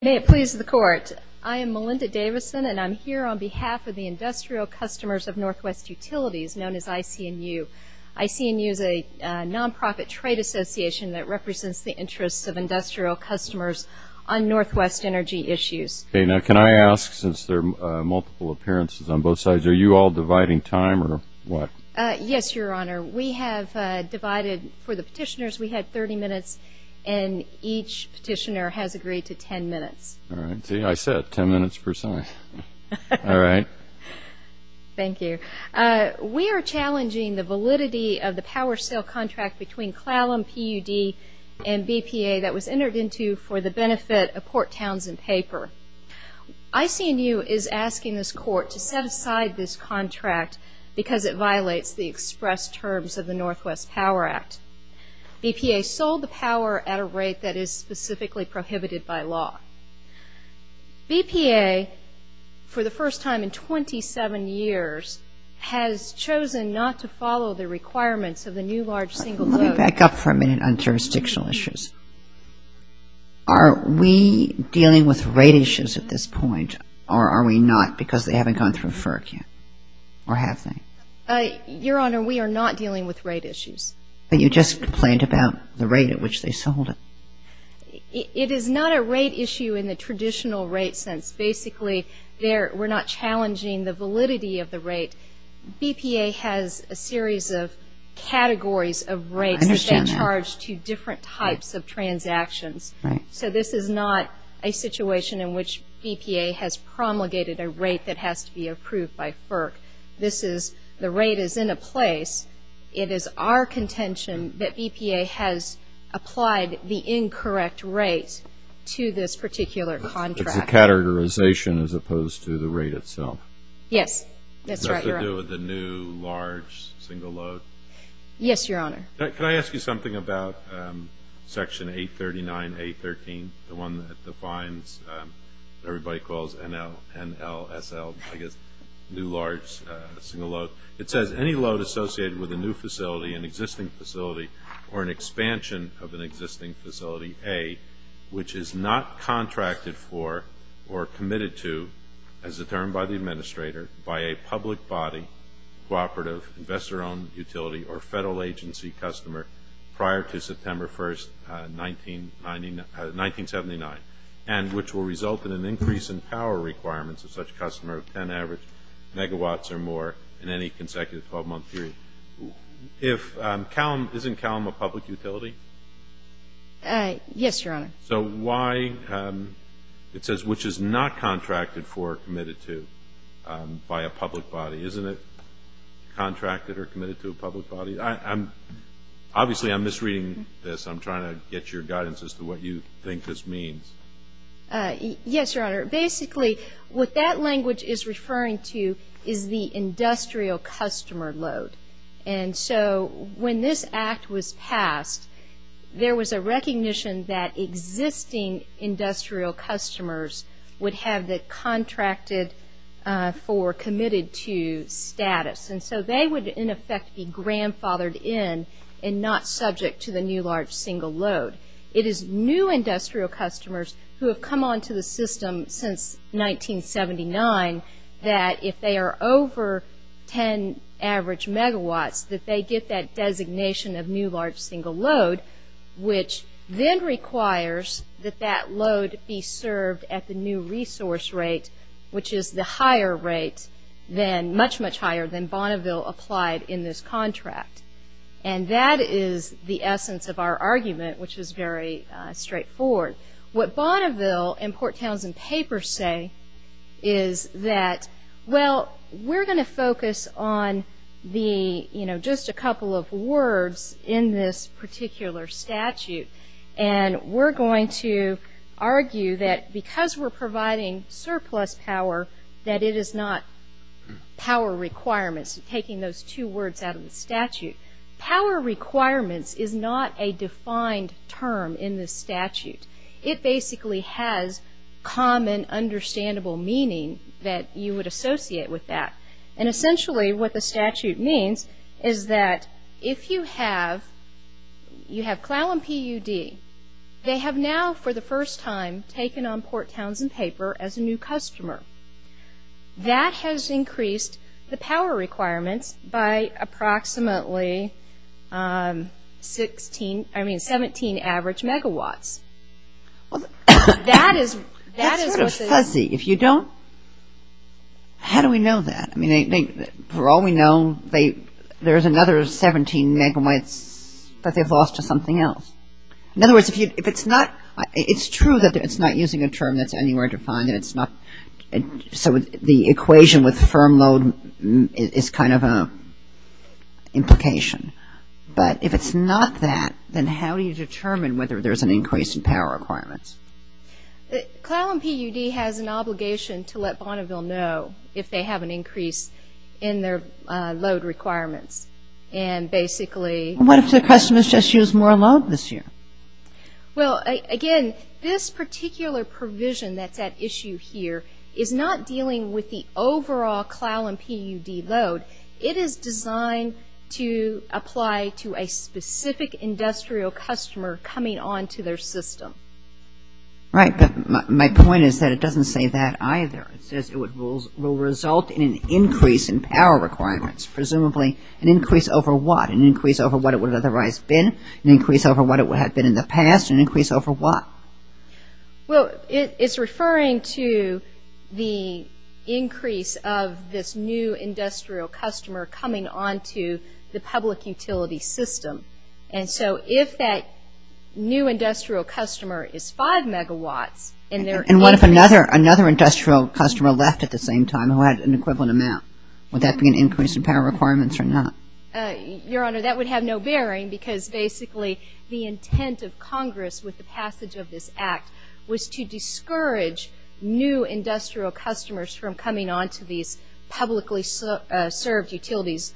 May it please the Court, I am Melinda Davison and I'm here on behalf of the Industrial Customers of Northwest Utilities, known as ICNU. ICNU is a non-profit trade association that represents the interests of industrial customers on Northwest energy issues. Okay, now can I ask, since there are multiple appearances on both sides, are you all dividing time or what? Yes, Your Honor. We have divided, for the petitioners, we had 30 minutes and each petitioner has agreed to 10 minutes. All right, see, I said 10 minutes per summary. All right. Thank you. We are challenging the validity of the power sale contract between Clallam, PUD, and BPA that was entered into for the benefit of Court Townsend Paper. ICNU is asking this Court to set aside this contract because it violates the express terms of the Northwest Power Act. BPA sold the power at a rate that is specifically prohibited by law. BPA, for the first time in 27 years, has chosen not to follow the requirements of the new large single load. Let me back up for a minute on jurisdictional issues. Are we dealing with rate issues at this point or are we not because they haven't gone through FERC yet or have they? Your Honor, we are not dealing with rate issues. You just complained about the rate at which they sold it. It is not a rate issue in the traditional rate sense. Basically, we're not challenging the validity of the rate. BPA has a series of categories of rates that charge to different types of transactions. So this is not a situation in which BPA has promulgated a rate that has to be approved by FERC. This is, the rate is in a place. It is our contention that BPA has applied the incorrect rate to this particular contract. A categorization as opposed to the rate itself. Yes. That's right, Your Honor. Does that have to do with the new large single load? Yes, Your Honor. Can I ask you something about Section 839A13, the one that defines, everybody calls NLSL, new large single load. It says, any load associated with a new facility, an existing facility, or an expansion of an existing facility, A, which is not contracted for or committed to, as determined by the administrator, by a public body, cooperative, investor-owned utility, or federal agency customer prior to September 1st, 1979, and which will result in an increase in power requirements of such customer of 10 average megawatts or more in any consecutive 12-month period. If Calum, isn't Calum a public utility? Yes, Your Honor. So why, it says, which is not contracted for or committed to by a public body. Isn't it contracted or committed to a public body? I'm, obviously I'm misreading this. I'm trying to get your guidance as to what you think this means. Yes, Your Honor. Basically, what that language is referring to is the industrial customer load. And so, when this act was passed, there was a recognition that existing industrial customers would have the contracted for or committed to status. And so, they would, in effect, be grandfathered in and not subject to the new large single load. It is new industrial customers who have come onto the system since 1979 that if they are over 10 average megawatts, that they get that designation of new large single load, which then requires that that load be served at the new resource rate, which is the higher rate than, much, much higher than Bonneville applied in this contract. And that is the essence of our argument, which is very straightforward. What Bonneville and Port Townsend Papers say is that, well, we're going to focus on the, you know, just a couple of words in this particular statute. And we're going to argue that because we're providing surplus power, that it is not power requirements, taking those two words out of the statute. Power requirements is not a defined term in this statute. It basically has common, understandable meaning that you would associate with that. And essentially, what the statute means is that if you have, you have CLAL and PUD, they have now, for the first time, taken on Port Townsend Paper as a new customer. That has increased the power requirements by approximately 16, I mean, 17 average megawatts. That is, that is what the. If you don't, how do we know that? I mean, for all we know, they, there's another 17 megawatts that they've lost to something else. In other words, if you, if it's not, it's true that it's not using a term that's anywhere defined. It's not, so the equation with firm load is kind of an implication. But if it's not that, then how do you determine whether there's an increase in power requirements? CLAL and PUD has an obligation to let Bonneville know if they have an increase in their load requirements. And basically. What if the question is just use more load this year? Well, again, this particular provision that that issue here is not dealing with the overall CLAL and PUD load. It is designed to apply to a specific industrial customer coming on to their system. Right, but my point is that it doesn't say that either. It says it will result in an increase in power requirements. Presumably, an increase over what? An increase over what it would have otherwise been? An increase over what it would have been in the past? An increase over what? Well, it's referring to the increase of this new industrial customer coming on to the public utility system. And so, if that new industrial customer is 5 megawatt and they're. And what if another, another industrial customer left at the same time who had an equivalent amount? Would that be an increase in power requirements or not? Your Honor, that would have no bearing because basically the intent of Congress with the passage of this act was to discourage new industrial customers from coming on to these publicly served utilities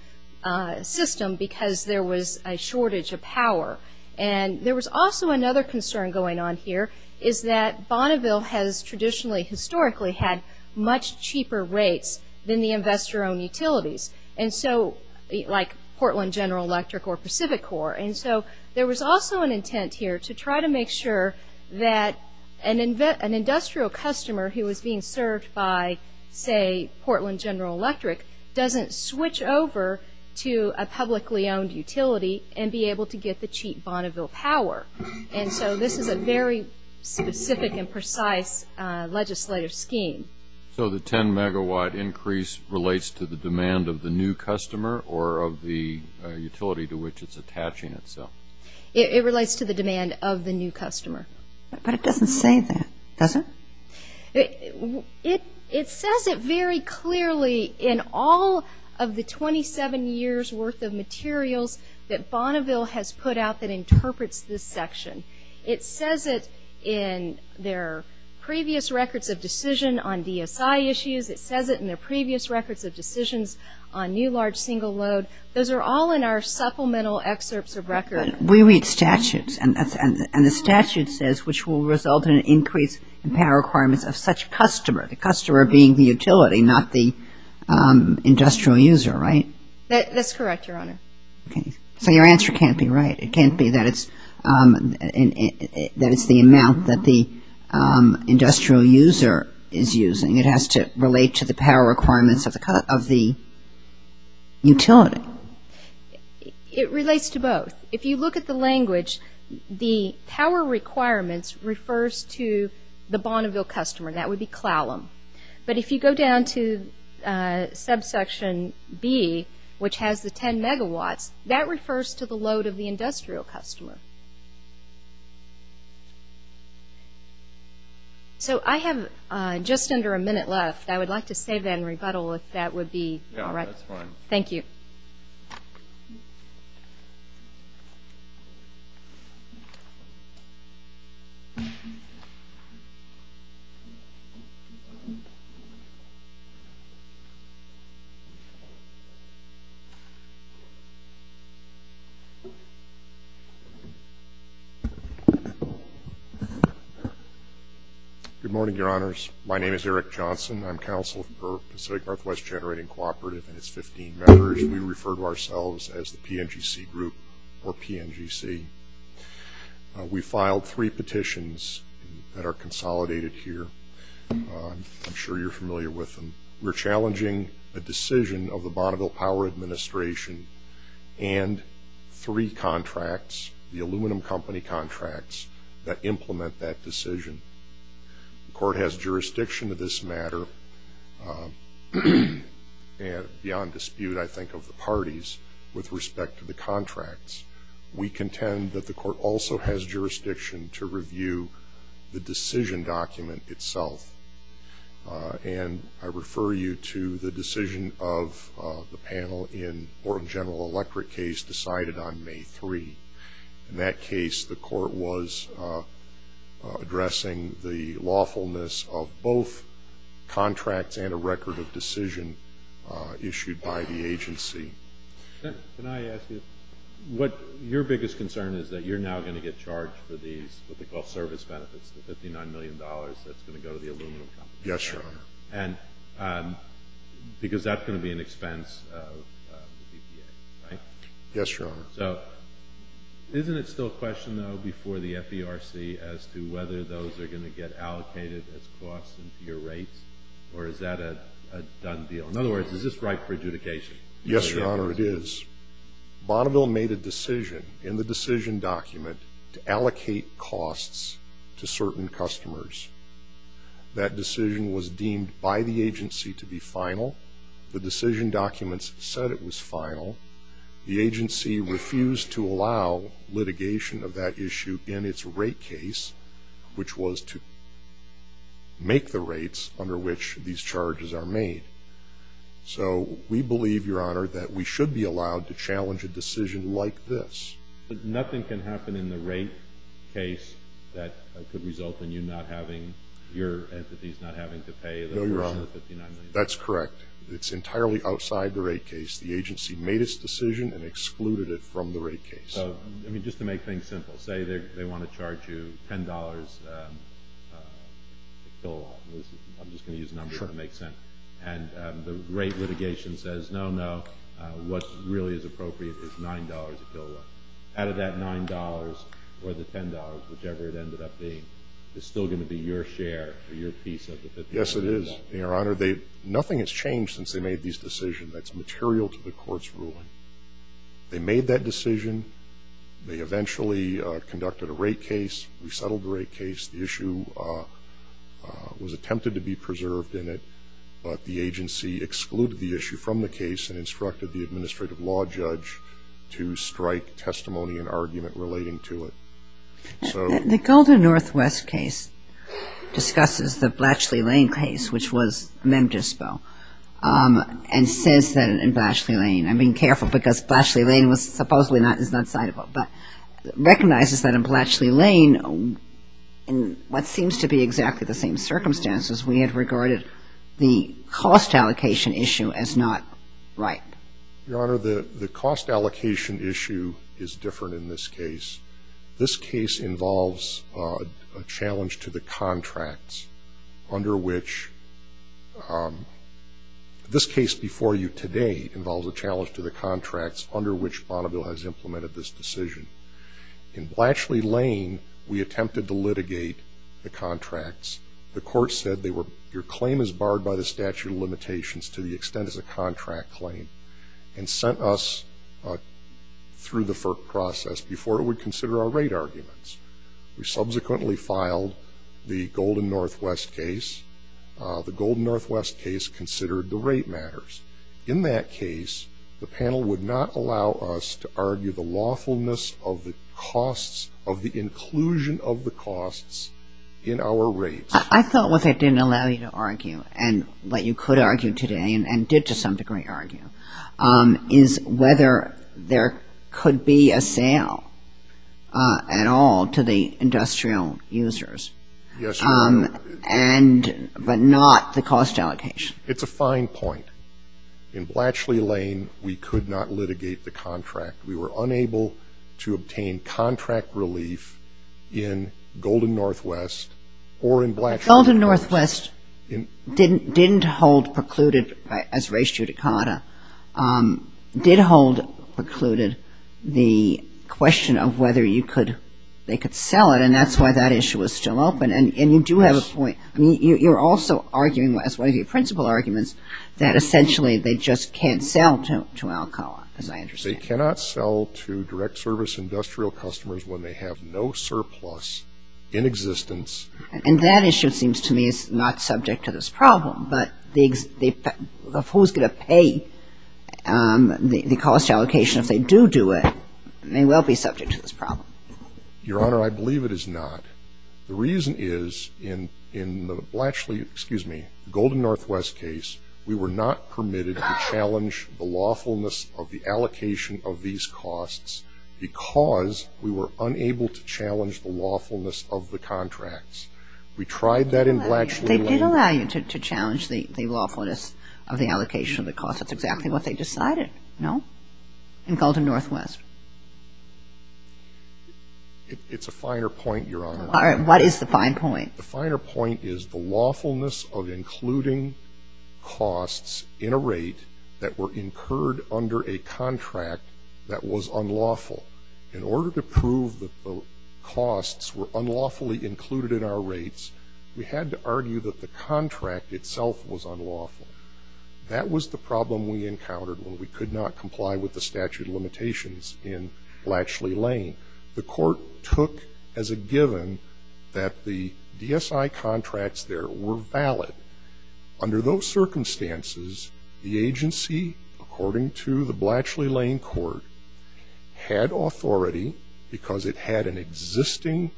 system because there was a shortage of power. And there was also another concern going on here is that Bonneville has traditionally, historically, had much cheaper rates than the investor-owned utilities. And so, like Portland General Electric or Pacific Core. And so, there was also an intent here to try to make sure that an industrial customer who was being served by, say, Portland General Electric doesn't switch over to a publicly owned utility and be able to get the cheap Bonneville power. And so, this is a very specific and precise legislative scheme. So, the 10 megawatt increase relates to the demand of the new customer or of the utility to which it's attaching itself? It relates to the demand of the new customer. But it doesn't say that, does it? It says it very clearly in all of the 27 years' worth of materials that Bonneville has put out that interprets this section. It says it in their previous records of decision on DSI issues. It says it in their previous records of decisions on new large single load. Those are all in our supplemental excerpts of records. We read statutes. And the statute says, which will result in an increase in power requirements of such customer. The customer being the utility, not the industrial user, right? That's correct, Your Honor. Okay. So, your answer can't be right. It can't be that it's the amount that the industrial user is using. It has to relate to the power requirements of the utility. It relates to both. If you look at the language, the power requirements refers to the Bonneville customer, and that would be Clallam. But if you go down to subsection B, which has the 10 megawatts, that refers to the load of the industrial customer. So, I have just under a minute left. I would like to save that and rebuttal if that would be all right. Yeah, that's fine. Thank you. Good morning, Your Honors. My name is Eric Johnson. I'm counsel for the Pacific Northwest Generating Cooperative, and it's 15 members. And we refer to ourselves as the PNGC Group, or PNGC. We filed three petitions that are consolidated here. I'm sure you're familiar with them. We're challenging a decision of the Bonneville Power Administration and three contracts, the aluminum company contracts, that implement that decision. The court has jurisdiction of this matter, beyond dispute, I think, of the parties with respect to the contracts. We contend that the court also has jurisdiction to review the decision document itself. And I refer you to the decision of the panel in the General Electric case decided on May 3. In that case, the court was addressing the lawfulness of both contracts and a record of decision issued by the agency. Can I ask you, what your biggest concern is that you're now going to get charged for these what we call service benefits, the $59 million that's going to go to the aluminum company, because that's going to be an expense of the DPA, right? Yes, Your Honor. So isn't it still a question, though, before the FDRC as to whether those are going to get allocated as costs in peer rate, or is that a done deal? In other words, is this right for adjudication? Yes, Your Honor, it is. Bonneville made a decision in the decision document to allocate costs to certain customers. That decision was deemed by the agency to be final. The decision documents said it was final. The agency refused to allow litigation of that issue in its rate case, which was to make the rates under which these charges are made. So we believe, Your Honor, that we should be allowed to challenge a decision like this. But nothing can happen in the rate case that could result in you not having, your entities not having to pay the $59 million? No, Your Honor, that's correct. It's entirely outside the rate case. The agency made its decision and excluded it from the rate case. Well, I mean, just to make things simple, say they want to charge you $10 a kilowatt, I'm just going to use a number here to make sense, and the rate litigation says, no, no, what's really is appropriate is $9 a kilowatt. Out of that $9, or the $10, whichever it ended up being, is still going to be your share or your piece of the $59 million? Yes, it is, Your Honor. They, nothing has changed since they made this decision. That's material to the court's ruling. They made that decision. They eventually conducted a rate case. We settled the rate case. The issue was attempted to be preserved in it, but the agency excluded the issue from the case and instructed the administrative law judge to strike testimony and argument relating to it. The Golden Northwest case discusses the Blatchley Lane case, which was Memphis, though, and says that in Blatchley Lane, I'm being careful because Blatchley Lane was supposedly not, is not citable, but recognizes that in Blatchley Lane, in what seems to be exactly the same circumstances, we had regarded the cost allocation issue as not right. Your Honor, the cost allocation issue is different in this case. This case involves a challenge to the contracts under which, this case before you today involves a challenge to the contracts under which Bonneville has implemented this decision. In Blatchley Lane, we attempted to litigate the contracts. The court said they were, your claim is barred by the statute of limitations to the extent it's a contract claim, and sent us through the FERC process before we consider our rate arguments. We subsequently filed the Golden Northwest case. The Golden Northwest case considered the rate matters. In that case, the panel would not allow us to argue the lawfulness of the costs, of the inclusion of the costs in our rates. I thought what they didn't allow you to argue, and what you could argue today, and did to some degree argue, is whether there could be a sale at all to the industrial users. Yes, Your Honor. And, but not the cost allocation. It's a fine point. In Blatchley Lane, we could not litigate the contract. We were unable to obtain contract relief in Golden Northwest, or in Blatchley. Golden Northwest didn't hold precluded, as raised here to Cona, did hold precluded the question of whether you could, they could sell it, and that's why that issue was still open. And, and you do have a point. You're also arguing, as one of your principal arguments, that essentially they just can't sell to Alcala, as I understand. They cannot sell to direct service industrial customers when they have no surplus in existence. And, that issue seems to me is not subject to this problem, but the, of who's going to pay the cost allocation if they do do it, they will be subject to this problem. Your Honor, I believe it is not. The reason is, in, in the Blatchley, excuse me, Golden Northwest case, we were not permitted to challenge the lawfulness of the allocation of these costs because we were unable to challenge the lawfulness of the contracts. We tried that in Blatchley. They did allow you to, to challenge the, the lawfulness of the allocation of the costs. That's exactly what they decided, no? In Golden Northwest. It, it's a finer point, Your Honor. All right, what is the fine point? The finer point is the lawfulness of including costs in a rate that were incurred under a contract that was unlawful. In order to prove that the costs were unlawfully included in our rates, we had to argue that the contract itself was unlawful. That was the problem we encountered when we could not comply with the statute of limitations in Blatchley Lane. The court took as a given that the DSI contracts there were valid. Under those circumstances, the agency, according to the Blatchley Lane court, had authority because it had an existing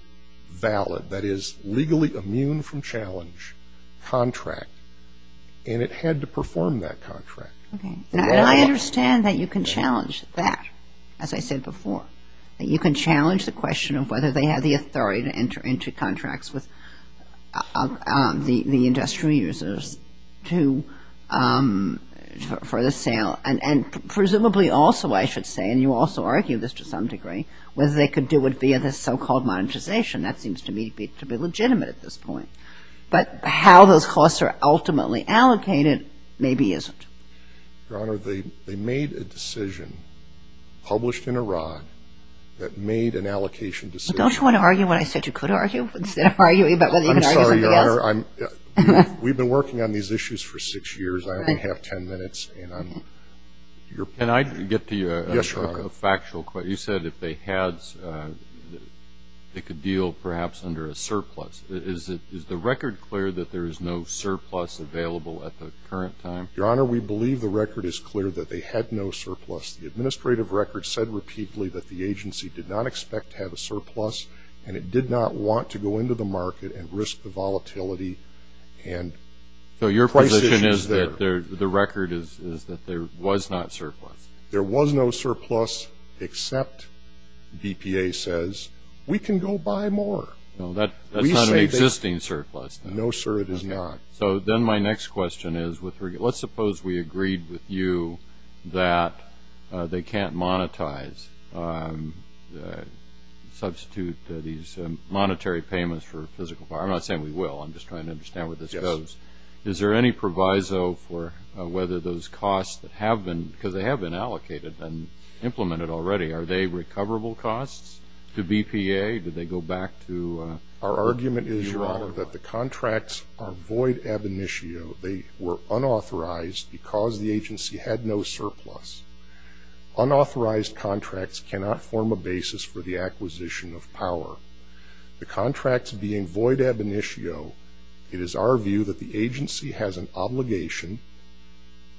valid, that is, legally immune from challenge, contract. And it had to perform that contract. Okay. And I understand that you can challenge that, as I said before. You can challenge the question of whether they had the authority to enter into contracts with the, the industrial users to, for the sale. And, and presumably also, I should say, and you also argued this to some degree, whether they could do it via the so-called monetization. That seems to me to be legitimate at this point. But how those costs are ultimately allocated maybe isn't. Your Honor, they, they made a decision, published in Iran, that made an allocation decision. Don't you want to argue what I said you could argue? Instead of arguing about whether you can argue what you can't. I'm sorry, Your Honor, I'm, we've been working on these issues for six years. I only have ten minutes, and I'm, you're. Can I get the factual, you said if they had, they could deal perhaps under a surplus. Is it, is the record clear that there is no surplus available at the current time? Your Honor, we believe the record is clear that they had no surplus. The administrative record said repeatedly that the agency did not expect to have a surplus, and it did not want to go into the market and risk the volatility and. So your position is that there, the record is, is that there was not surplus. There was no surplus, except, DPA says, we can go buy more. No, that, that's not an existing surplus. No, sir, it is not. So then my next question is, with regard, let's suppose we agreed with you that they can't monetize, substitute these monetary payments for physical, I'm not saying we will, I'm just trying to understand where this goes. Is there any proviso for whether those costs that have been, because they have been allocated and implemented already, are they recoverable costs to BPA, do they go back to. Our argument is, Your Honor, that the contracts are void ab initio. They were unauthorized because the agency had no surplus. Unauthorized contracts cannot form a basis for the acquisition of power. The contracts being void ab initio, it is our view that the agency has an obligation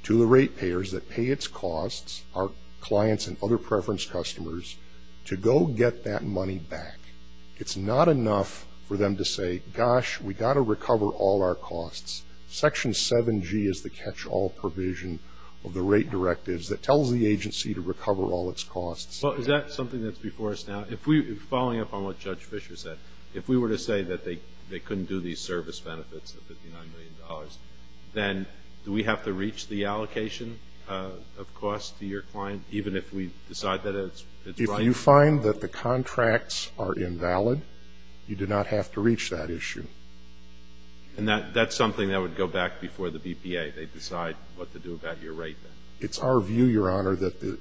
to the rate payers that pay its costs, our clients and other preference customers, to go get that money back. It's not enough for them to say, gosh, we've got to recover all our costs. Section 7G is the catch-all provision of the rate directives that tells the agency to recover all its costs. Well, is that something that's before us now? If we, following up on what Judge Fisher said, if we were to say that they couldn't do these service benefits of $59 million, then do we have to reach the allocation of costs to your client, even if we decide that it's right? If you find that the contracts are invalid, you do not have to reach that issue. And that's something that would go back before the BPA. They decide what to do about your rate. It's our view, Your Honor, that the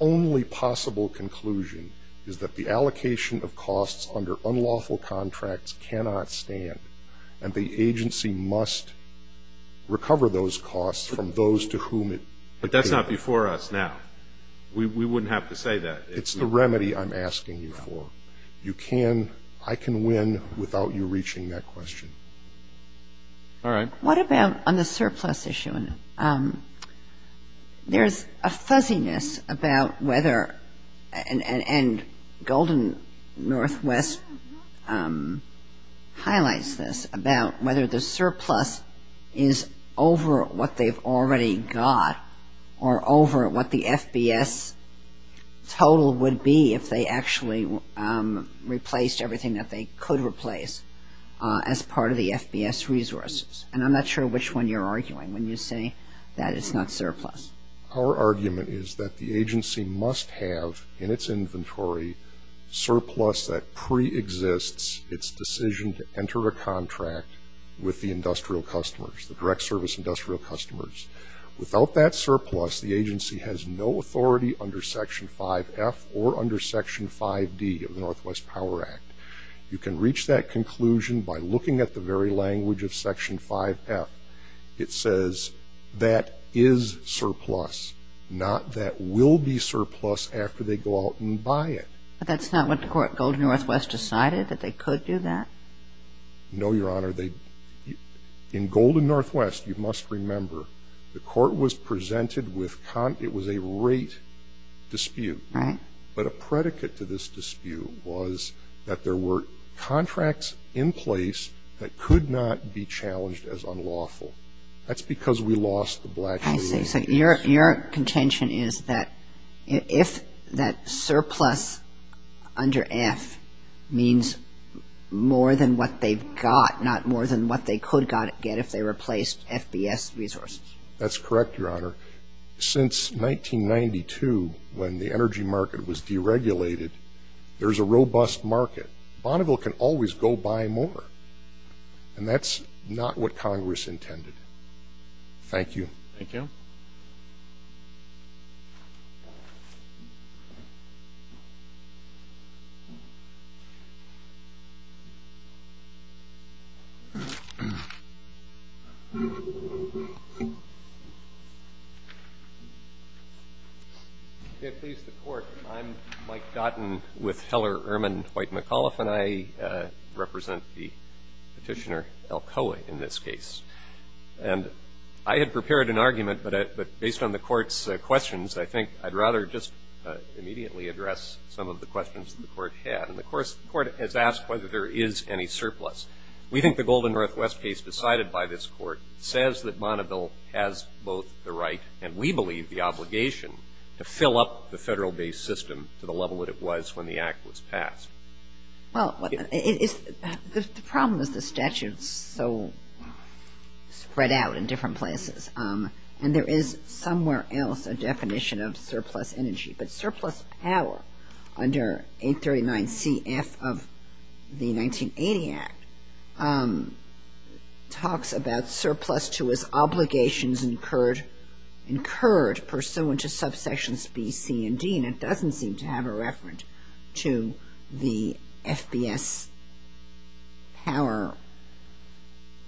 only possible conclusion is that the allocation of costs under unlawful contracts cannot stand, and the agency must recover those costs from those to whom it paid. But that's not before us now. We wouldn't have to say that. It's the remedy I'm asking you for. You can, I can win without you reaching that question. All right. What about on the surplus issue? There's a fuzziness about whether, and Golden Northwest highlights this, about whether the surplus is over what they've already got or over what the FBS total would be if they actually replaced everything that they could replace as part of the FBS resources. And I'm not sure which one you're arguing when you say that it's not surplus. Our argument is that the agency must have, in its inventory, surplus that preexists its decision to enter a contract with the industrial customers, the direct service industrial customers. Without that surplus, the agency has no authority under Section 5F or under Section 5D of the Northwest Power Act. You can reach that conclusion by looking at the very language of Section 5F. It says that is surplus, not that will be surplus after they go out and buy it. But that's not what Golden Northwest decided, that they could do that? No, Your Honor. In Golden Northwest, you must remember, the court was presented with, it was a rate dispute. But a predicate to this dispute was that there were contracts in place that could not be challenged as unlawful. That's because we lost the black and blue. Your contention is that if that surplus under F means more than what they've got, not more than what they could get if they replaced FBS resources. That's correct, Your Honor. Since 1992, when the energy market was deregulated, there's a robust market. Bonneville can always go buy more. And that's not what Congress intended. Thank you. Thank you. I'm Mike Dotton with Heller, Ehrman, White, McAuliffe. And I represent the Petitioner, Alcoa, in this case. And I had prepared an argument, but based on the court's questions, I think I'd rather just immediately address some of the questions that the court had. And of course, the court has asked whether there is any surplus. We think the Golden Northwest case decided by this court says that Bonneville has both the right and we believe the obligation to fill up the federal-based system to the level that it was when the act was passed. Well, the problem is the statute is so spread out in different places. And there is somewhere else a definition of surplus energy. But surplus power under 839CF of the 1980 Act talks about surplus to its obligations incurred pursuant to subsections B, C, and D. And it doesn't seem to have a reference to the FBS power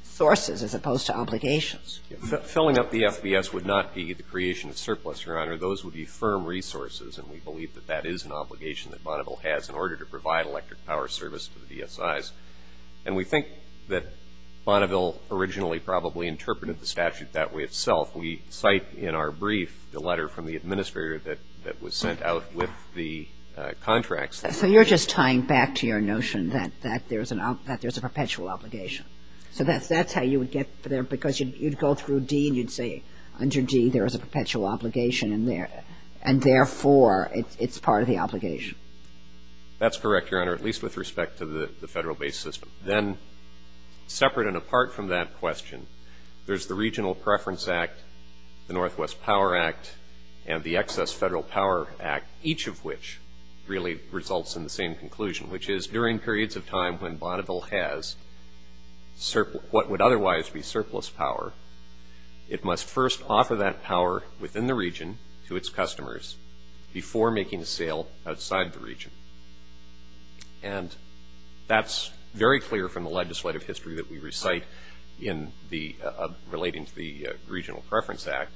sources as opposed to obligations. Filling up the FBS would not be the creation of surplus, Your Honor. Those would be firm resources. And we believe that that is an obligation that Bonneville has in order to provide electric power service to the BSIs. And we think that Bonneville originally probably interpreted the statute that way itself. We cite in our brief the letter from the administrator that was sent out with the contracts. So you're just tying back to your notion that there's a perpetual obligation. So that's how you would get there because you'd go through D and you'd say, under D there is a perpetual obligation and therefore it's part of the obligation. That's correct, Your Honor, at least with respect to the federal-based system. Then separate and apart from that question, there's the Regional Preference Act, the Northwest Power Act, and the Excess Federal Power Act, each of which really results in the same conclusion, which is during periods of time when Bonneville has what would otherwise be surplus power, it must first offer that power within the region to its customers before making sale outside the region. And that's very clear from the legislative history that we recite in the, relating to the Regional Preference Act.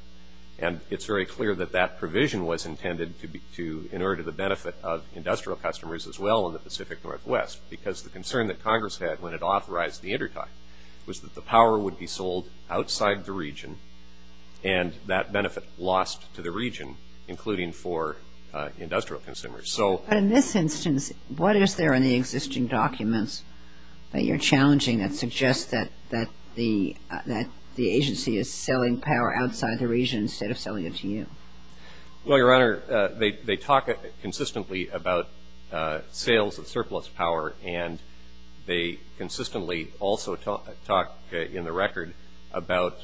And it's very clear that that provision was intended to, in order to the benefit of industrial customers as well in the Pacific Northwest because the concern that Congress had when it authorized the intertitle was that the power would be sold outside the region and that benefit lost to the region, including for industrial consumers. So. But in this instance, what is there in the existing documents that you're challenging that suggest that the agency is selling power outside the region instead of selling it to you? Well, Your Honor, they talk consistently about sales of surplus power and they consistently also talk in the record about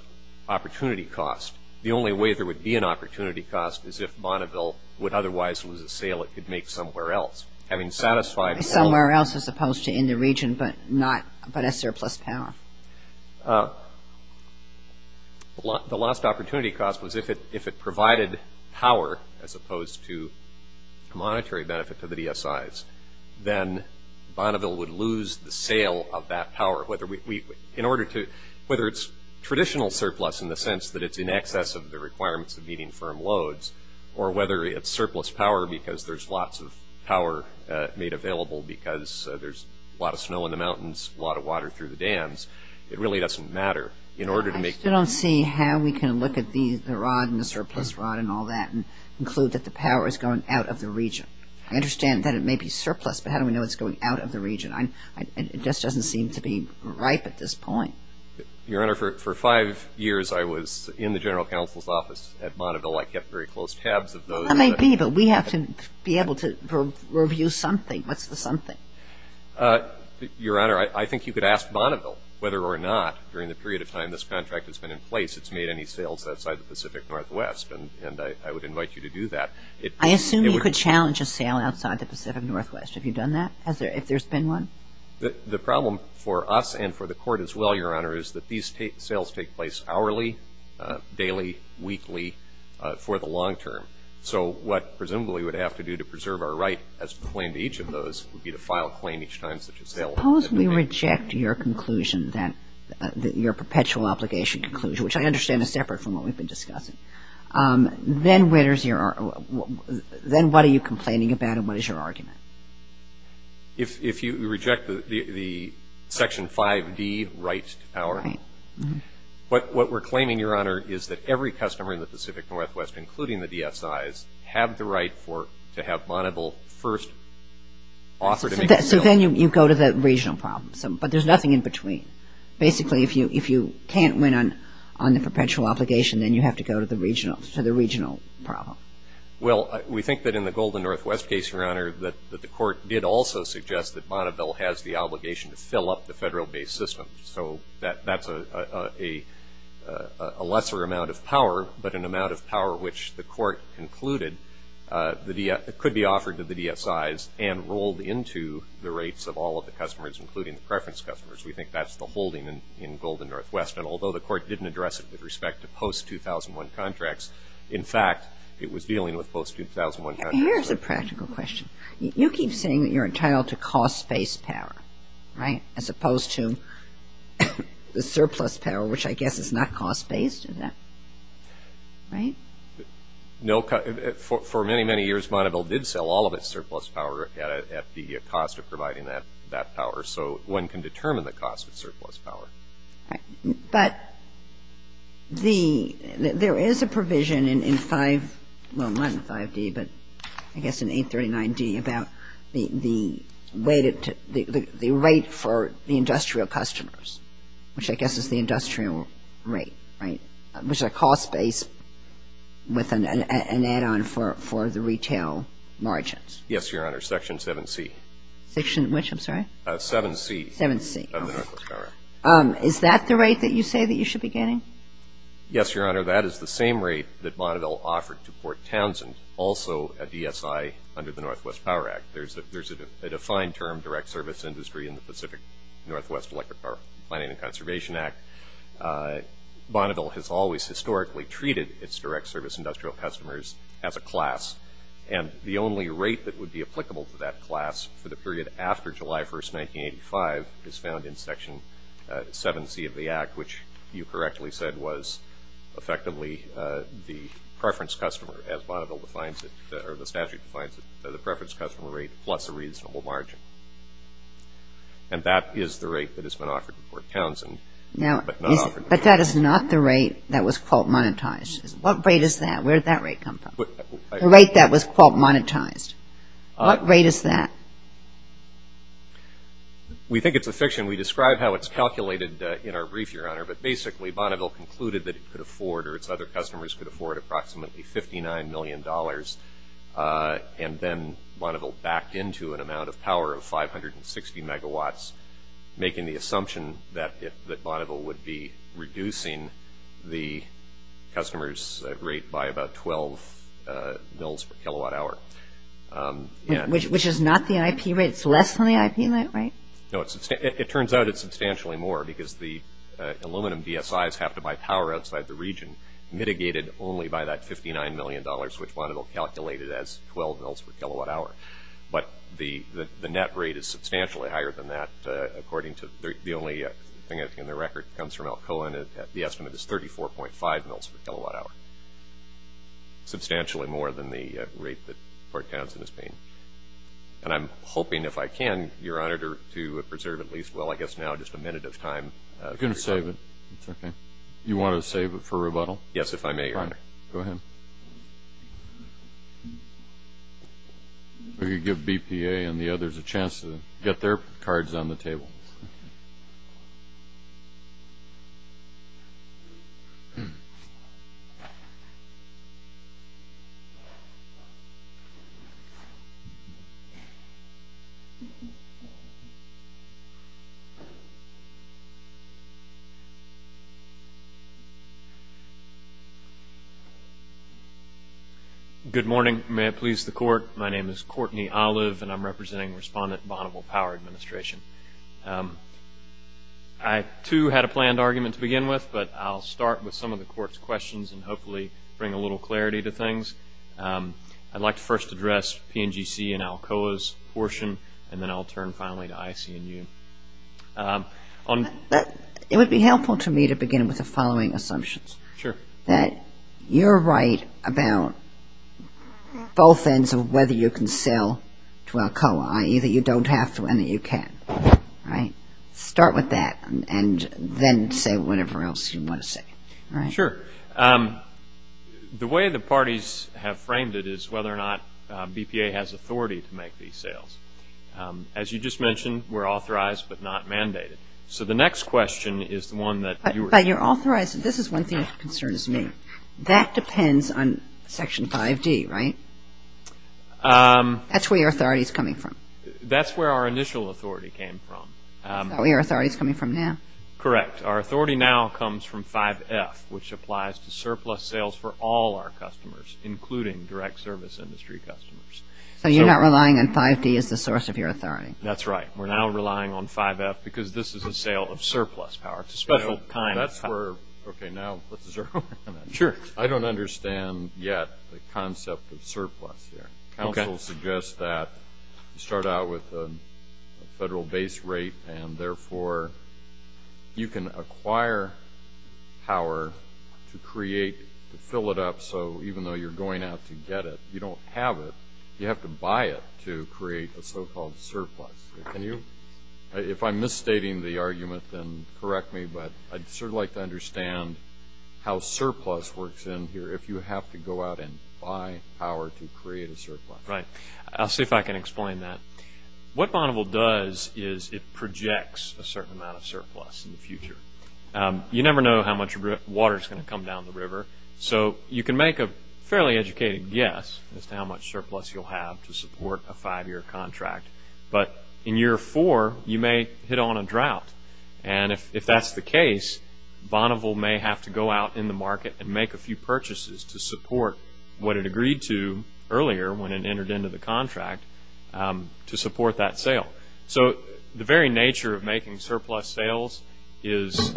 opportunity cost. The only way there would be an opportunity cost is if Bonneville would otherwise lose a sale it could make somewhere else. Having satisfied. Somewhere else as opposed to in the region, but not, but a surplus power. The lost opportunity cost was if it provided power as opposed to monetary benefit to the DSIs then Bonneville would lose the sale of that power. Whether we, in order to, whether it's traditional surplus in the sense that it's in excess of the requirements of meeting firm loads or whether it's surplus power because there's lots of power made available because there's a lot of snow in the mountains, a lot of water through the dams. It really doesn't matter. In order to make. I still don't see how we can look at these, the rod and the surplus rod and all that and include that the power has gone out of the region. I understand that it may be surplus, but how do we know it's going out of the region? I, I, it just doesn't seem to be right at this point. Your Honor, for, for five years I was in the general counsel's office at Bonneville. I kept very close tabs of those. I may be, but we have to be able to review something. What's the something? Your Honor, I, I think you could ask Bonneville whether or not during the period of time this contract has been in place it's made any sales outside the Pacific Northwest and, and I, I would invite you to do that. I assume you could challenge a sale outside the Pacific Northwest. Have you done that? Has there, if there's been one? The, the problem for us and for the court as well, Your Honor, is that these sales take place hourly, daily, weekly, for the long term. So what presumably we would have to do to preserve our right as to the claim to each of those would be to file a claim each time such a sale. Suppose we reject your conclusion that, that your perpetual obligation conclusion, which I understand is separate from what we've been discussing. Then where's your, then what are you complaining about and what is your argument? If, if you reject the, the, the Section 5B rights to power. Right. What, what we're claiming, Your Honor, is that every customer in the Pacific Northwest, including the DSIs, have the right for, to have Bonneville first offer to make a sale. So then you, you go to the regional problem, but there's nothing in between. Basically, if you, if you can't win on, on the perpetual obligation, then you have to go to the regional, to the regional problem. Well, we think that in the Golden Northwest case, Your Honor, that, that the court did also suggest that Bonneville has the obligation to fill up the federal-based system. So that, that's a, a, a, a lesser amount of power, but an amount of power which the court concluded the DS, could be offered to the DSIs and rolled into the rates of all of the customers, including the preference customers. We think that's the holding in, in Golden Northwest. And although the court didn't address it with respect to post-2001 contracts, in fact, it was dealing with post-2001 contracts. Here's a practical question. You, you keep saying that you're entitled to cost-based power, right, as opposed to the surplus power, which I guess is not cost-based in that, right? No, for, for many, many years, Bonneville did sell all of its surplus power at a, at the cost of providing that, that power. So one can determine the cost of surplus power. Right. But the, there is a provision in, in 5, well, not in 5D, but I guess in 839D about the, the rate of, the, the, the rate for the industrial customers, which I guess is the industrial rate, right, which are cost-based with an, an, an add-on for, for the retail margins. Yes, Your Honor. Section 7C. Section which, I'm sorry? 7C. 7C. Of the Northwest Power Act. Is that the rate that you say that you should be getting? Yes, Your Honor. That is the same rate that Bonneville offered to Fort Townsend, also a DSI under the Northwest Power Act. There's a, there's a, a defined term, direct service industry in the Pacific Northwest Electric Power Planning and Conservation Act. Bonneville has always historically treated its direct service industrial customers as a class. And the only rate that would be applicable to that class for the period after July 1st, 1985 is found in Section 7C of the Act, which you correctly said was effectively the preference customer, as Bonneville defines it, or the statute defines it, the preference customer rate plus a reasonable margin. And that is the rate that has been offered to Fort Townsend. Now. But not offered. But that is not the rate that was quote monetized. What rate is that? Where did that rate come from? The rate that was quote monetized. What rate is that? We think it's a fiction. We described how it's calculated in our brief, your honor. But basically, Bonneville concluded that it could afford, or its other customers could afford approximately $59 million. And then Bonneville backed into an amount of power of 560 megawatts, making the assumption that Bonneville would be reducing the customer's rate by about 12 mils per kilowatt hour. Which is not the IP rate. It's less than the IP rate, right? No. It turns out it's substantially more, because the aluminum DSIs have to buy power outside the region, mitigated only by that $59 million, which Bonneville calculated as 12 mils per kilowatt hour. But the net rate is substantially higher than that, according to the only thing that's in the record comes from Alcoa, and the estimate is 34.5 mils per kilowatt hour. Substantially more than the rate that Fort Townsend is paying. And I'm hoping, if I can, your honor, to preserve at least, well, I guess now just a minute of time. I couldn't save it. That's okay. You want to save it for rebuttal? Yes, if I may, your honor. Go ahead. Good morning, may it please the court. My name is Courtney Olive, and I'm representing Respondent Bonneville Power Administration. I, too, had a planned argument to begin with, but I'll start with some of the court's questions and hopefully bring a little clarity to things. I'd like to first address PNGC and Alcoa's portion, and then I'll turn finally to IC&U. It would be helpful to me to begin with the following assumptions. Sure. That you're right about both ends of whether you can sell to Alcoa, i.e. that you don't have to, and that you can, right? Start with that, and then say whatever else you want to say. Sure. The way the parties have framed it is whether or not BPA has authority to make these sales. As you just mentioned, we're authorized, but not mandated. So the next question is the one that you were... But you're authorized, and this is one thing that's of concern to me. That depends on Section 5D, right? That's where your authority's coming from. That's where our initial authority came from. That's where your authority's coming from now. Correct. Our authority now comes from 5F, which applies to surplus sales for all our customers, including direct service industry customers. So you're not relying on 5D as the source of your authority. That's right. We're now relying on 5F because this is a sale of surplus power. It's a special kind of power. Okay. Now, let's zero in on that. Sure. I don't understand yet the concept of surplus here. Council suggests that you start out with a federal base rate, and therefore you can acquire power to create, to fill it up. So even though you're going out to get it, you don't have it. You have to buy it to create a so-called surplus. If I'm misstating the argument, then correct me, but I'd sure like to understand how surplus works in here, if you have to go out and buy power to create a surplus. Right. I'll see if I can explain that. What Bonneville does is it projects a certain amount of surplus in the future. You never know how much water is going to come down the river. So you can make a fairly educated guess as to how much surplus you'll have to support a five-year contract, but in year four, you may hit on a drought. And if that's the case, Bonneville may have to go out in the market and make a few purchases to support what it agreed to earlier when it entered into the contract, to support that sale. So the very nature of making surplus sales is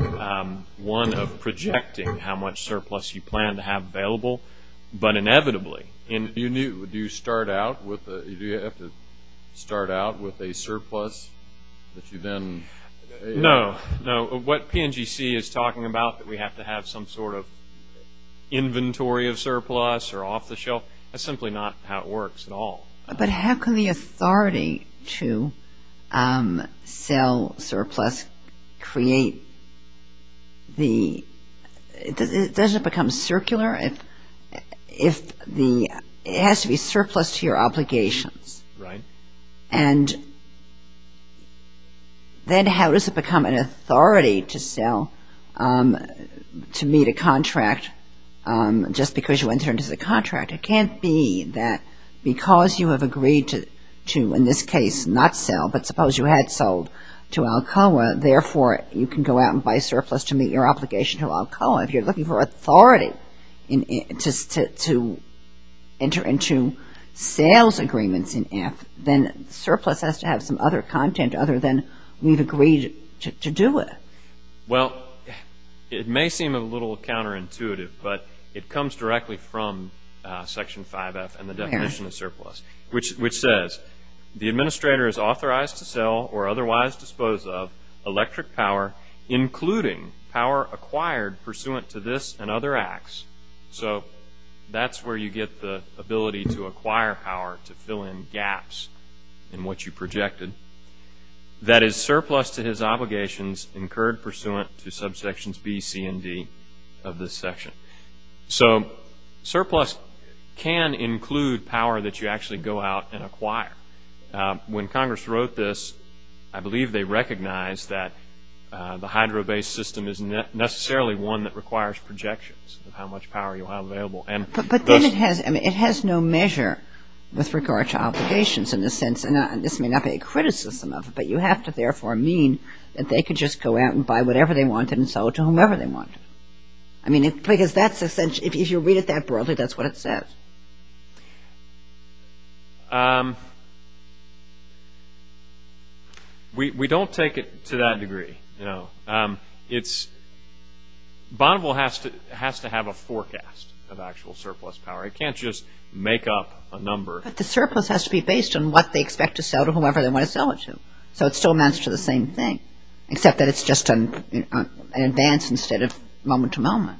one of projecting how much surplus you plan to have available. But inevitably, and you knew, do you start out with a, do you have to start out with a surplus if you then? No, no. What PNGC is talking about, that we have to have some sort of inventory of surplus or off the shelf, that's simply not how it works at all. But how can the authority to sell surplus create the, does it become circular? It has to be surplus to your obligations. Right. And then how does it become an authority to sell, to meet a contract just because you entered into the contract? It can't be that because you have agreed to, in this case, not sell, but suppose you had sold to Alcoa, therefore, you can go out and buy surplus to meet your obligation to Alcoa. If you're looking for authority to enter into sales agreements in AFT, then surplus has to have some other content other than we've agreed to do it. Well, it may seem a little counterintuitive, but it comes directly from Section 5F and the definition of surplus, which says, the administrator is authorized to sell or otherwise dispose of electric power, including power acquired pursuant to this and other acts. So that's where you get the ability to acquire power to fill in gaps in what you projected. That is surplus to his obligations incurred pursuant to subsections B, C, and D of this section. So surplus can include power that you actually go out and acquire. When Congress wrote this, I believe they recognized that the hydro-based system isn't necessarily one that requires projections of how much power you have available. And this- But then it has, I mean, it has no measure with regard to obligations in the sense, and this may not be a criticism of it, but you have to therefore mean that they could just go out and buy whatever they want and sell it to whomever they want. I mean, because that's essentially, if you read it that broadly, that's what it says. We don't take it to that degree, no. It's, Bonneville has to have a forecast of actual surplus power. It can't just make up a number. But the surplus has to be based on what they expect to sell to whomever they want to sell it to. So it still amounts to the same thing, except that it's just an advance instead of moment to moment.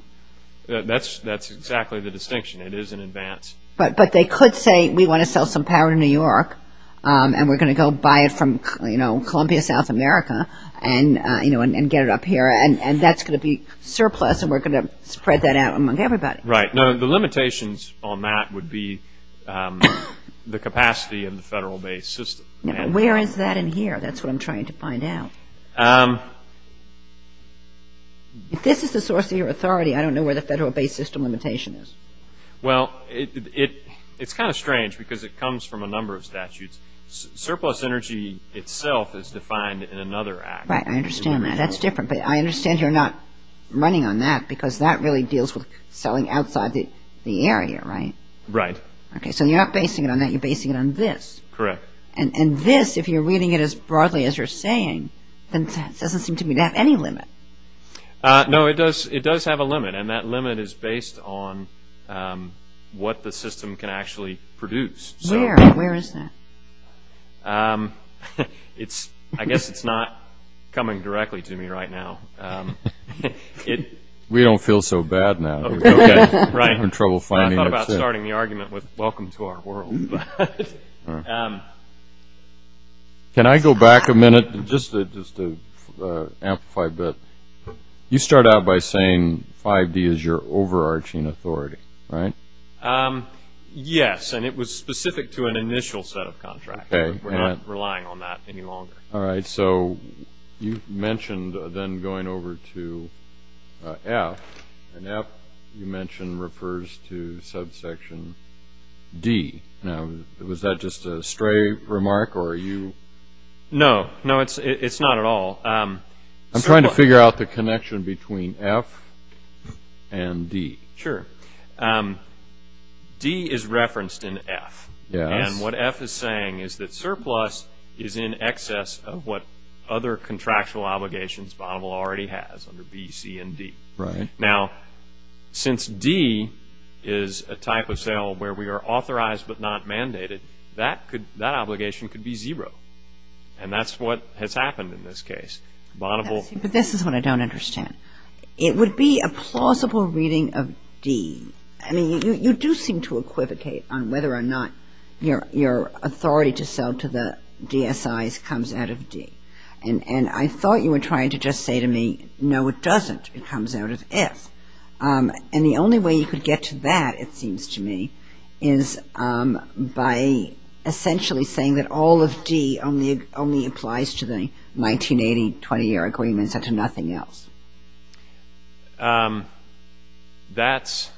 That's exactly the distinction. It is an advance. But they could say, we want to sell some power to New York, and we're going to go buy it from, you know, Columbia, South America, and, you know, and get it up here. And that's going to be surplus, and we're going to spread that out among everybody. Right. Now, the limitations on that would be the capacity of the federal-based system. Now, where is that in here? That's what I'm trying to find out. If this is the source of your authority, I don't know where the federal-based system limitation is. Well, it's kind of strange, because it comes from a number of statutes. Surplus energy itself is defined in another act. Right. I understand that. That's different. But I understand you're not running on that, because that really deals with selling outside the area, right? Right. Okay. So you're not basing it on that. You're basing it on this. Correct. And this, if you're reading it as broadly as you're saying, then that doesn't seem to have any limit. No, it does have a limit, and that limit is based on what the system can actually produce. Where? Where is that? I guess it's not coming directly to me right now. We don't feel so bad now. We're having trouble finding it. I thought about starting the argument with, welcome to our world. Can I go back a minute, just to amplify a bit? You start out by saying 5G is your overarching authority, right? Yes, and it was specific to an initial set of contracts. We're not relying on that any longer. All right. So you mentioned then going over to F, and F, you mentioned, refers to subsection D. Now, was that just a stray remark, or are you? No. No, it's not at all. I'm trying to figure out the connection between F and D. Sure. D is referenced in F, and what F is saying is that surplus is in excess of what other contractual obligations Bonneville already has, under B, C, and D. Right. Now, since D is a type of sale where we are authorized but not mandated, that obligation could be zero, and that's what has happened in this case. Bonneville. But this is what I don't understand. It would be a plausible reading of D. I mean, you do seem to equivocate on whether or not your authority to sell to the DSIs comes out of D. And I thought you were trying to just say to me, no, it doesn't. It comes out of F. And the only way you could get to that, it seems to me, is by essentially saying that all of D only applies to the 1980 20-year agreement and nothing else. That's,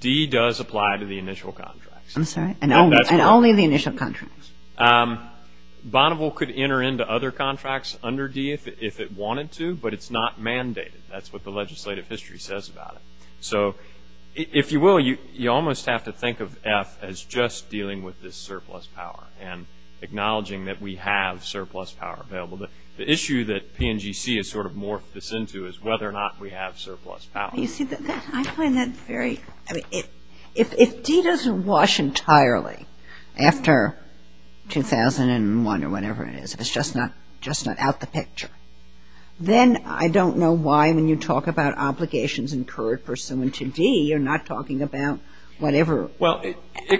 D does apply to the initial contracts. I'm sorry, and only the initial contracts. Bonneville could enter into other contracts under D if it wanted to, but it's not mandated. That's what the legislative history says about it. So, if you will, you almost have to think of F as just dealing with this surplus power and acknowledging that we have surplus power available. The issue that PNGC has sort of morphed this into is whether or not we have surplus power. You see, I find that very, I mean, if D doesn't wash entirely after 2001 or whatever it is, if it's just not out the picture, then I don't know why when you talk about obligations incurred pursuant to D, you're not talking about whatever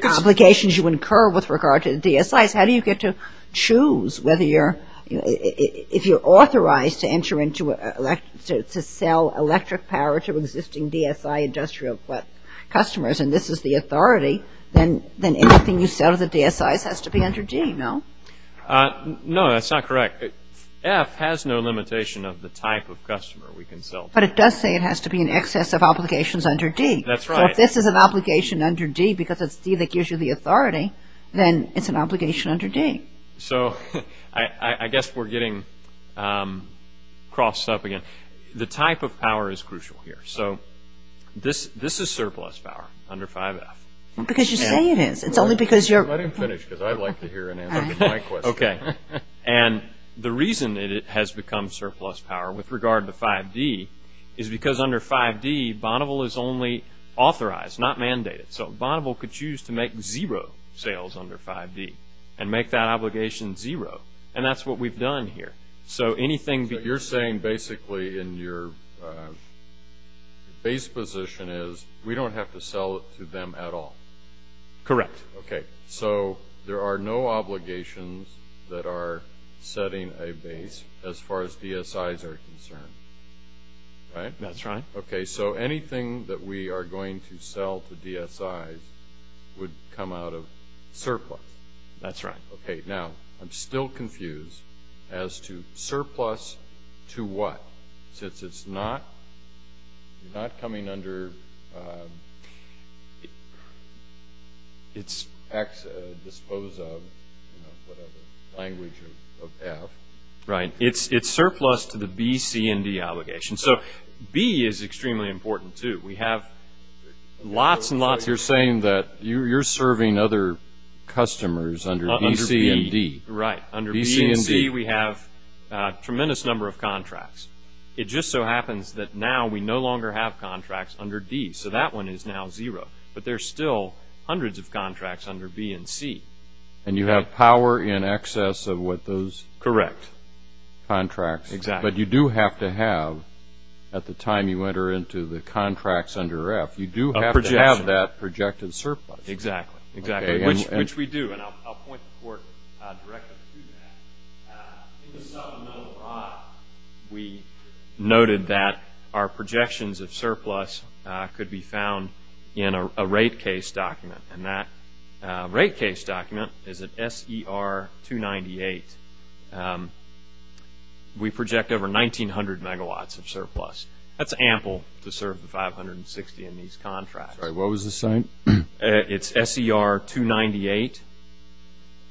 obligations you incur with regard to the DSIs. How do you get to choose whether you're, if you're authorized to enter into, to sell electric power to existing DSI industrial customers, and this is the authority, then anything you sell to the DSIs has to be under D, no? No, that's not correct. F has no limitation of the type of customer we can sell to. But it does say it has to be in excess of obligations under D. That's right. So, if this is an obligation under D because it's D that gives you the authority, then it's an obligation under D. So, I guess we're getting crossed up again. The type of power is crucial here. So, this is surplus power under 5F. Because you say it is. It's only because you're. I didn't finish it. I'd like to hear an answer to that question. Okay. And the reason that it has become surplus power with regard to 5D is because under 5D Bonneville is only authorized, not mandated. So, Bonneville could choose to make zero sales under 5D and make that obligation zero. And that's what we've done here. So, anything. But you're saying basically in your base position is we don't have to sell it to them at all. Correct. Okay. So, there are no obligations that are setting a base as far as DSIs are concerned. Right? That's right. Okay. So, anything that we are going to sell to DSIs would come out of surplus. That's right. Okay. Now, I'm still confused as to surplus to what? Since it's not coming under its dispose of language of F. Right. It's surplus to the B, C, and D obligations. So, B is extremely important, too. We have lots and lots. You're saying that you're serving other customers under B, C, and D. Right. Under B, C, and D, we have a tremendous number of contracts. It just so happens that now we no longer have contracts under D. So, that one is now zero. But there's still hundreds of contracts under B and C. And you have power in excess of what those? Correct. Contracts. Exactly. But you do have to have, at the time you enter into the contracts under F, you do have to have that projected surplus. Exactly. Exactly. Which we do. And I'll point the court directly to that. In the sub-note I, we noted that our projections of surplus could be found in a rate case document, and that rate case document is an SER-298. We project over 1,900 megawatts of surplus. That's ample to serve the 560 in these contracts. Right. What was the site? It's SER-298,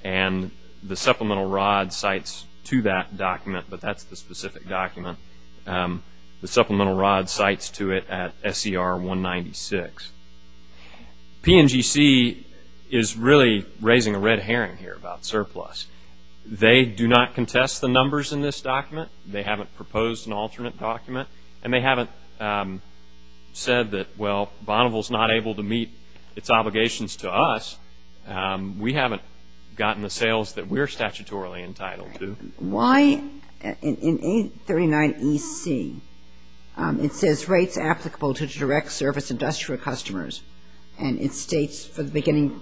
and the supplemental rod sites to that document, but that's the specific document. The supplemental rod sites to it at SER-196. PNGC is really raising a red herring here about surplus. They do not contest the numbers in this document. They haven't proposed an alternate document, and they haven't said that, well, Bonneville's not able to meet its obligations to us. We haven't gotten the sales that we're statutorily entitled to. Why, in 839 EC, it says rates applicable to direct service industrial customers, and it states for the beginning,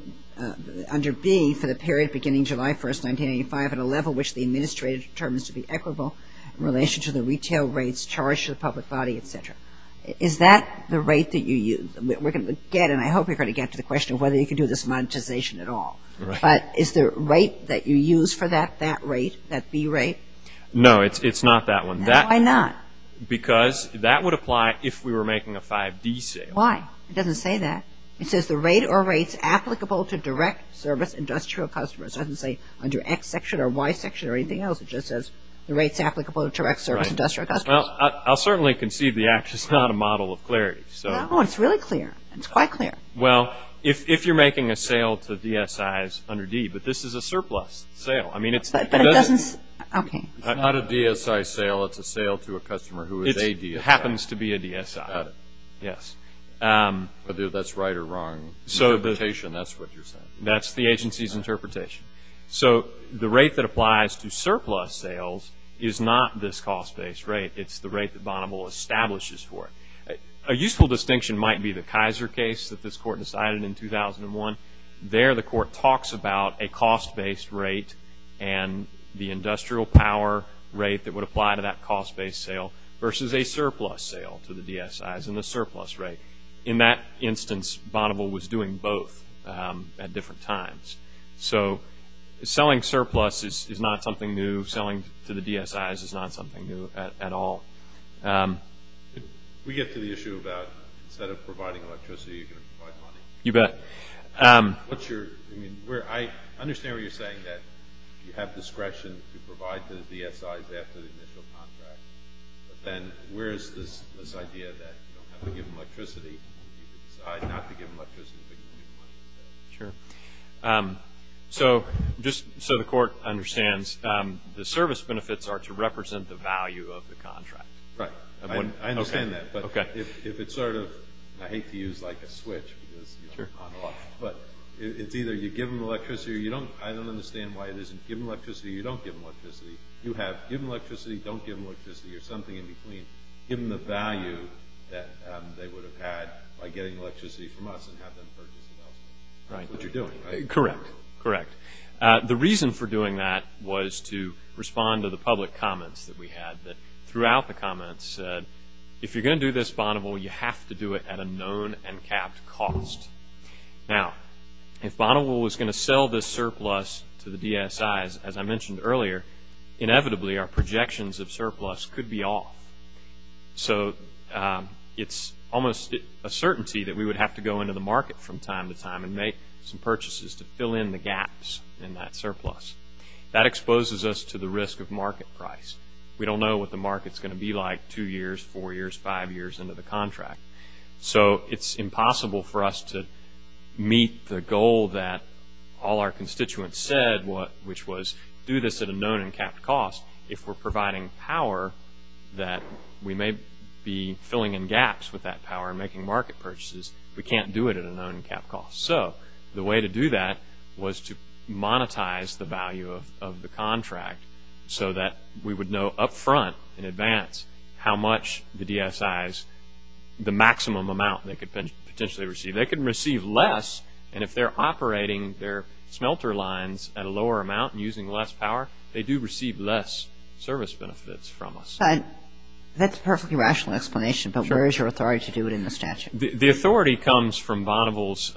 under B, for the period beginning July 1st, 1995, at a level which the administrator determines to be equitable in relation to the retail rates charged to the public body, et cetera. Is that the rate that you use? We're going to get, and I hope we're going to get to the question of whether you can do this monetization at all. Right. But is the rate that you use for that, that rate, that B rate? No, it's not that one. That. Why not? Because that would apply if we were making a 5B sale. Why? It doesn't say that. It says the rate or rates applicable to direct service industrial customers. It doesn't say under X section or Y section or anything else. It just says the rates applicable to direct service industrial customers. Well, I'll certainly concede the act is not a model of clarity, so. No, it's really clear. It's quite clear. Well, if you're making a sale to DSIs under D, but this is a surplus sale. I mean, it's. But it doesn't. Okay. Not a DSI sale. It's a sale to a customer who is a DSI. It happens to be a DSI. Got it. Yes. Whether that's right or wrong. So. Interpretation. That's what you're saying. That's the agency's interpretation. So, the rate that applies to surplus sales is not this cost-based rate. It's the rate that Bonneville establishes for it. A useful distinction might be the Kaiser case that this court decided in 2001. There, the court talks about a cost-based rate and the industrial power rate that would apply to that cost-based sale versus a surplus sale to the DSIs and the surplus rate. In that instance, Bonneville was doing both at different times. So, selling surplus is not something new. Selling to the DSIs is not something new at all. We get to the issue about, instead of providing electricity, you can provide money. You bet. What's your, I mean, I understand what you're saying, that you have discretion to provide to the DSIs after the initial contract. And where is this idea that you don't have to give them electricity? You have to give them electricity. Sure. So, just so the court understands, the service benefits are to represent the value of the contract. Right. I understand that. But if it's sort of, I hate to use like a switch, but it's either you give them electricity or you don't, I don't understand why it isn't, give them electricity or you don't give them electricity. You have, give them electricity, don't give them electricity, or something in between. Give them the value that they would have had by getting electricity from us and have them purchase the house. Right. Which you're doing, right? Correct. Correct. The reason for doing that was to respond to the public comments that we had that throughout the comments said, if you're going to do this, Bonneville, you have to do it at a known and capped cost. Now, if Bonneville was going to sell this surplus to the DSIs, as I mentioned earlier, inevitably our projections of surplus could be off. So, it's almost a certainty that we would have to go into the market from time to time and make some purchases to fill in the gaps in that surplus. That exposes us to the risk of market price. We don't know what the market's going to be like two years, four years, five years into the contract. So, it's impossible for us to meet the goal that all our constituents said, which was do this at a known and capped cost. If we're providing power that we may be filling in gaps with that power and making market purchases, we can't do it at a known and capped cost. So, the way to do that was to monetize the value of the contract so that we would know up front in advance how much the DSIs, the maximum amount they could potentially receive. They could receive less, and if they're operating their smelter lines at a lower amount and using less power, they do receive less service benefits from us. But that's a perfectly rational explanation, but where is your authority to do it in the statute? The authority comes from Bonneville's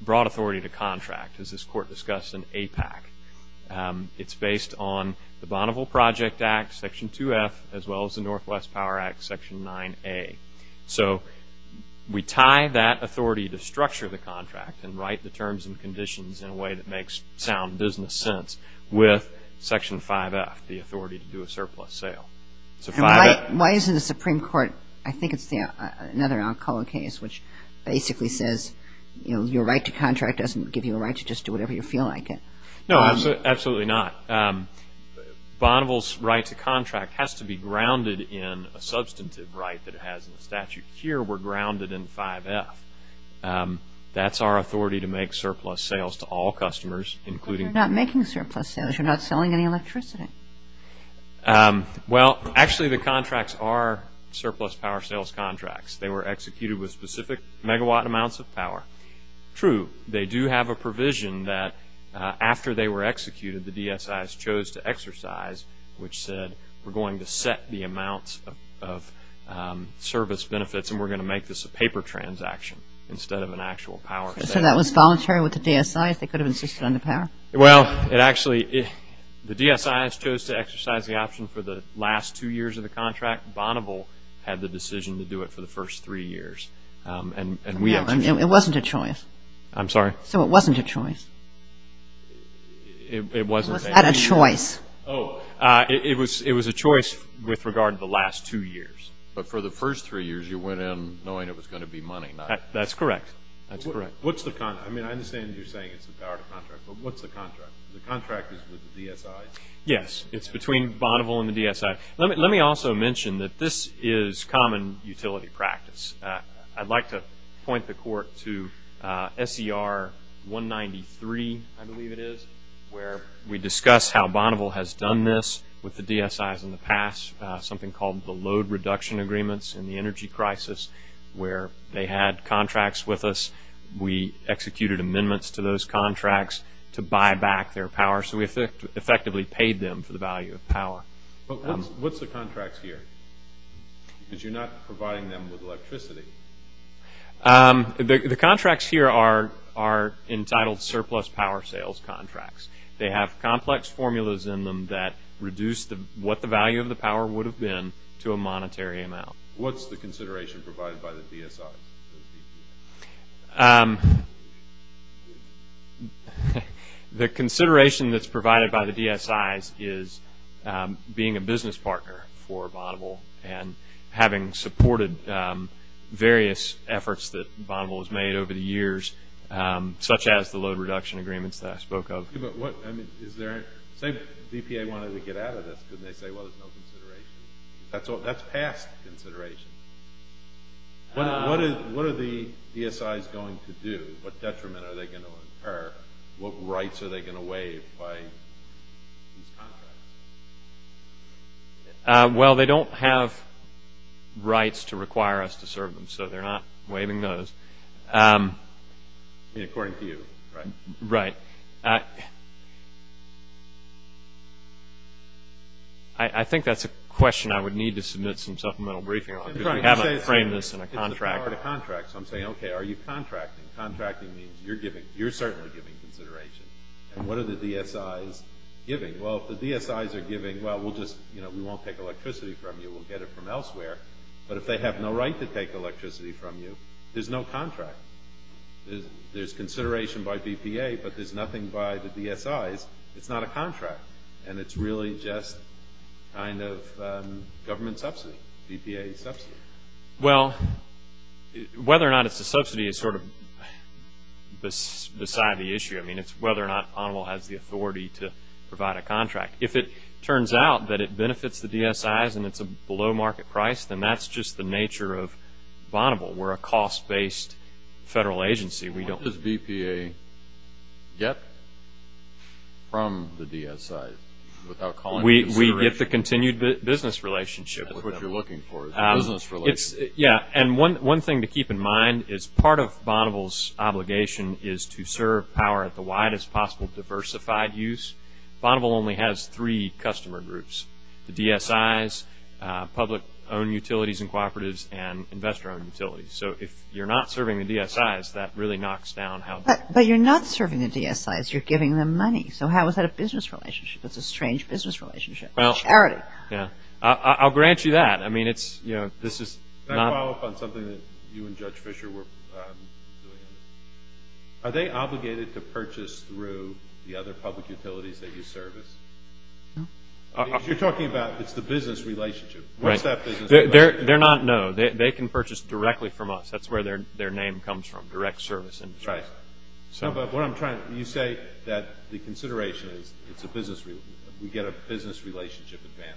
broad authority to contract, as this court discussed in APAC. It's based on the Bonneville Project Act, Section 2F, as well as the Northwest Power Act, Section 9A. So, we tie that authority to structure the contract and write the terms and conditions in a way that makes sound business sense with Section 5F, the authority to do a surplus sale. So, 5F. Why isn't the Supreme Court, I think it's another Alcala case, which basically says, you know, your right to contract doesn't give you a right to just do whatever you feel like it. No, absolutely not. Bonneville's right to contract has to be grounded in a substantive right that it has in the statute. Here, we're grounded in 5F. That's our authority to make surplus sales to all customers, including... You're not making surplus sales. You're not selling any electricity. Well, actually, the contracts are surplus power sales contracts. They were executed with specific megawatt amounts of power. True. They do have a provision that after they were executed, the DSIs chose to exercise, which said, we're going to set the amount of service benefits, and we're going to make this a paper transaction instead of an actual power sale. So, that was voluntary with the DSIs? They could have insisted on the power? Well, it actually, the DSIs chose to exercise the option for the last two years of the contract, Bonneville had the decision to do it for the first three years. It wasn't a choice? I'm sorry? So, it wasn't a choice? It wasn't. Was that a choice? Oh, it was a choice with regard to the last two years, but for the first three years, you went in knowing it was going to be money. That's correct. That's correct. What's the contract? I mean, I understand you're saying it's the power of contract, but what's the contract? The contract is with the DSI. Yes, it's between Bonneville and the DSI. Let me also mention that this is common utility practice. I'd like to point the court to SDR 193, I believe it is, where we discuss how Bonneville has done this with the DSIs in the past, something called the load reduction agreements in the energy crisis where they had contracts with us. We executed amendments to those contracts to buy back their power. So, we effectively paid them for the value of power. But what's the contract here? Because you're not providing them with electricity. The contracts here are entitled surplus power sales contracts. They have complex formulas in them that reduce what the value of the power would have been to a monetary amount. What's the consideration provided by the DSI? The consideration that's provided by the DSIs is being a business partner for Bonneville and having supported various efforts that Bonneville has made over the years, such as the load reduction agreements that I spoke of. But what, I mean, is there, I think DPA wanted to get out of this and they said, well, there's no consideration. That's past consideration. What are the DSIs going to do? What detriment are they going to incur? What rights are they going to waive by these contracts? Well, they don't have rights to require us to serve them. So, they're not waiving those. According to you, right? Right. I think that's a question I would need to submit some supplemental briefing on. How do I frame this in a contract? In a contract, so I'm saying, okay, are you contracting? Contracting means you're giving, you're certainly giving consideration. And what are the DSIs giving? Well, if the DSIs are giving, well, we'll just, you know, we won't take electricity from you. We'll get it from elsewhere. But if they have no right to take electricity from you, there's no contract. There's consideration by DPA, but there's nothing by the DSIs. It's not a contract. And it's really just kind of government subsidy. DPA is subsidy. Well, whether or not it's a subsidy is sort of beside the issue. I mean, it's whether or not Bonneville has the authority to provide a contract. If it turns out that it benefits the DSIs and it's a below market price, then that's just the nature of Bonneville. We're a cost-based federal agency. We don't. What does DPA get from the DSIs? Without calling it a subsidy. We get the continued business relationship. That's what you're looking for, is a business relationship. Yeah. And one thing to keep in mind is part of Bonneville's obligation is to serve power at the widest possible diversified use. Bonneville only has three customer groups, the DSIs, public-owned utilities and cooperatives, and investor-owned utilities. So if you're not serving the DSIs, that really knocks down how. But you're not serving the DSIs. You're giving them money. So how is that a business relationship? That's a strange business relationship. Well. Charity. Yeah. I'll grant you that. I mean, it's, you know, this is not. Can I follow up on something that you and Judge Fisher were saying? Are they obligated to purchase through the other public utilities that you service? You're talking about it's the business relationship. What's that business relationship? They're not. No. They can purchase directly from us. That's where their name comes from, direct service. Right. But what I'm trying to, you say that the consideration is it's a business relationship. We get a business relationship advance,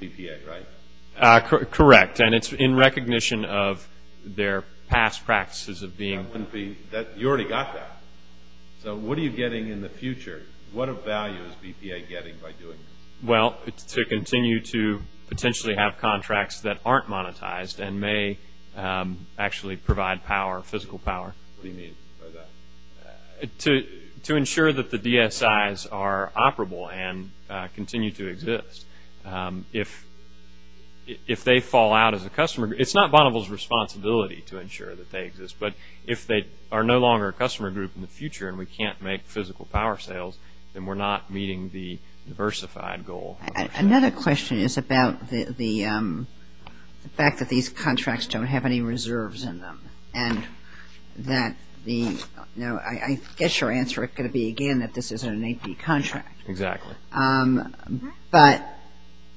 DPA, right? Correct. And it's in recognition of their past practices of being. I wouldn't be. That, you already got that. So what are you getting in the future? What value is DPA getting by doing this? Well, to continue to potentially have contracts that aren't monetized and may actually provide power, physical power. What do you mean by that? To ensure that the DSIs are operable and continue to exist. If they fall out as a customer, it's not Bonneville's responsibility to ensure that they exist. But if they are no longer a customer group in the future and we can't make physical power sales, then we're not meeting the diversified goal. Another question is about the fact that these contracts don't have any reserves in them. And that the, I guess your answer is going to be again that this isn't an AP contract. Exactly. But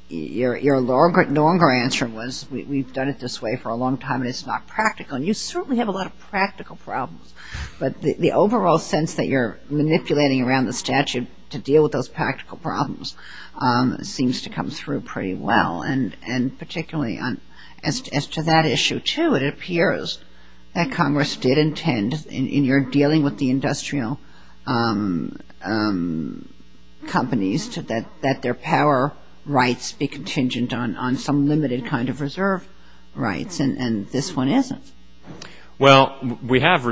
your longer answer was we've done it this way for a long time and it's not practical. And you certainly have a lot of practical problems, but the overall sense that you're manipulating around the statute to deal with those practical problems seems to come through pretty well. And particularly as to that issue, too, it appears that Congress did intend in your dealing with the industrial companies that their power rights be contingent on some limited kind of reserve rights, and this one isn't. Well, we have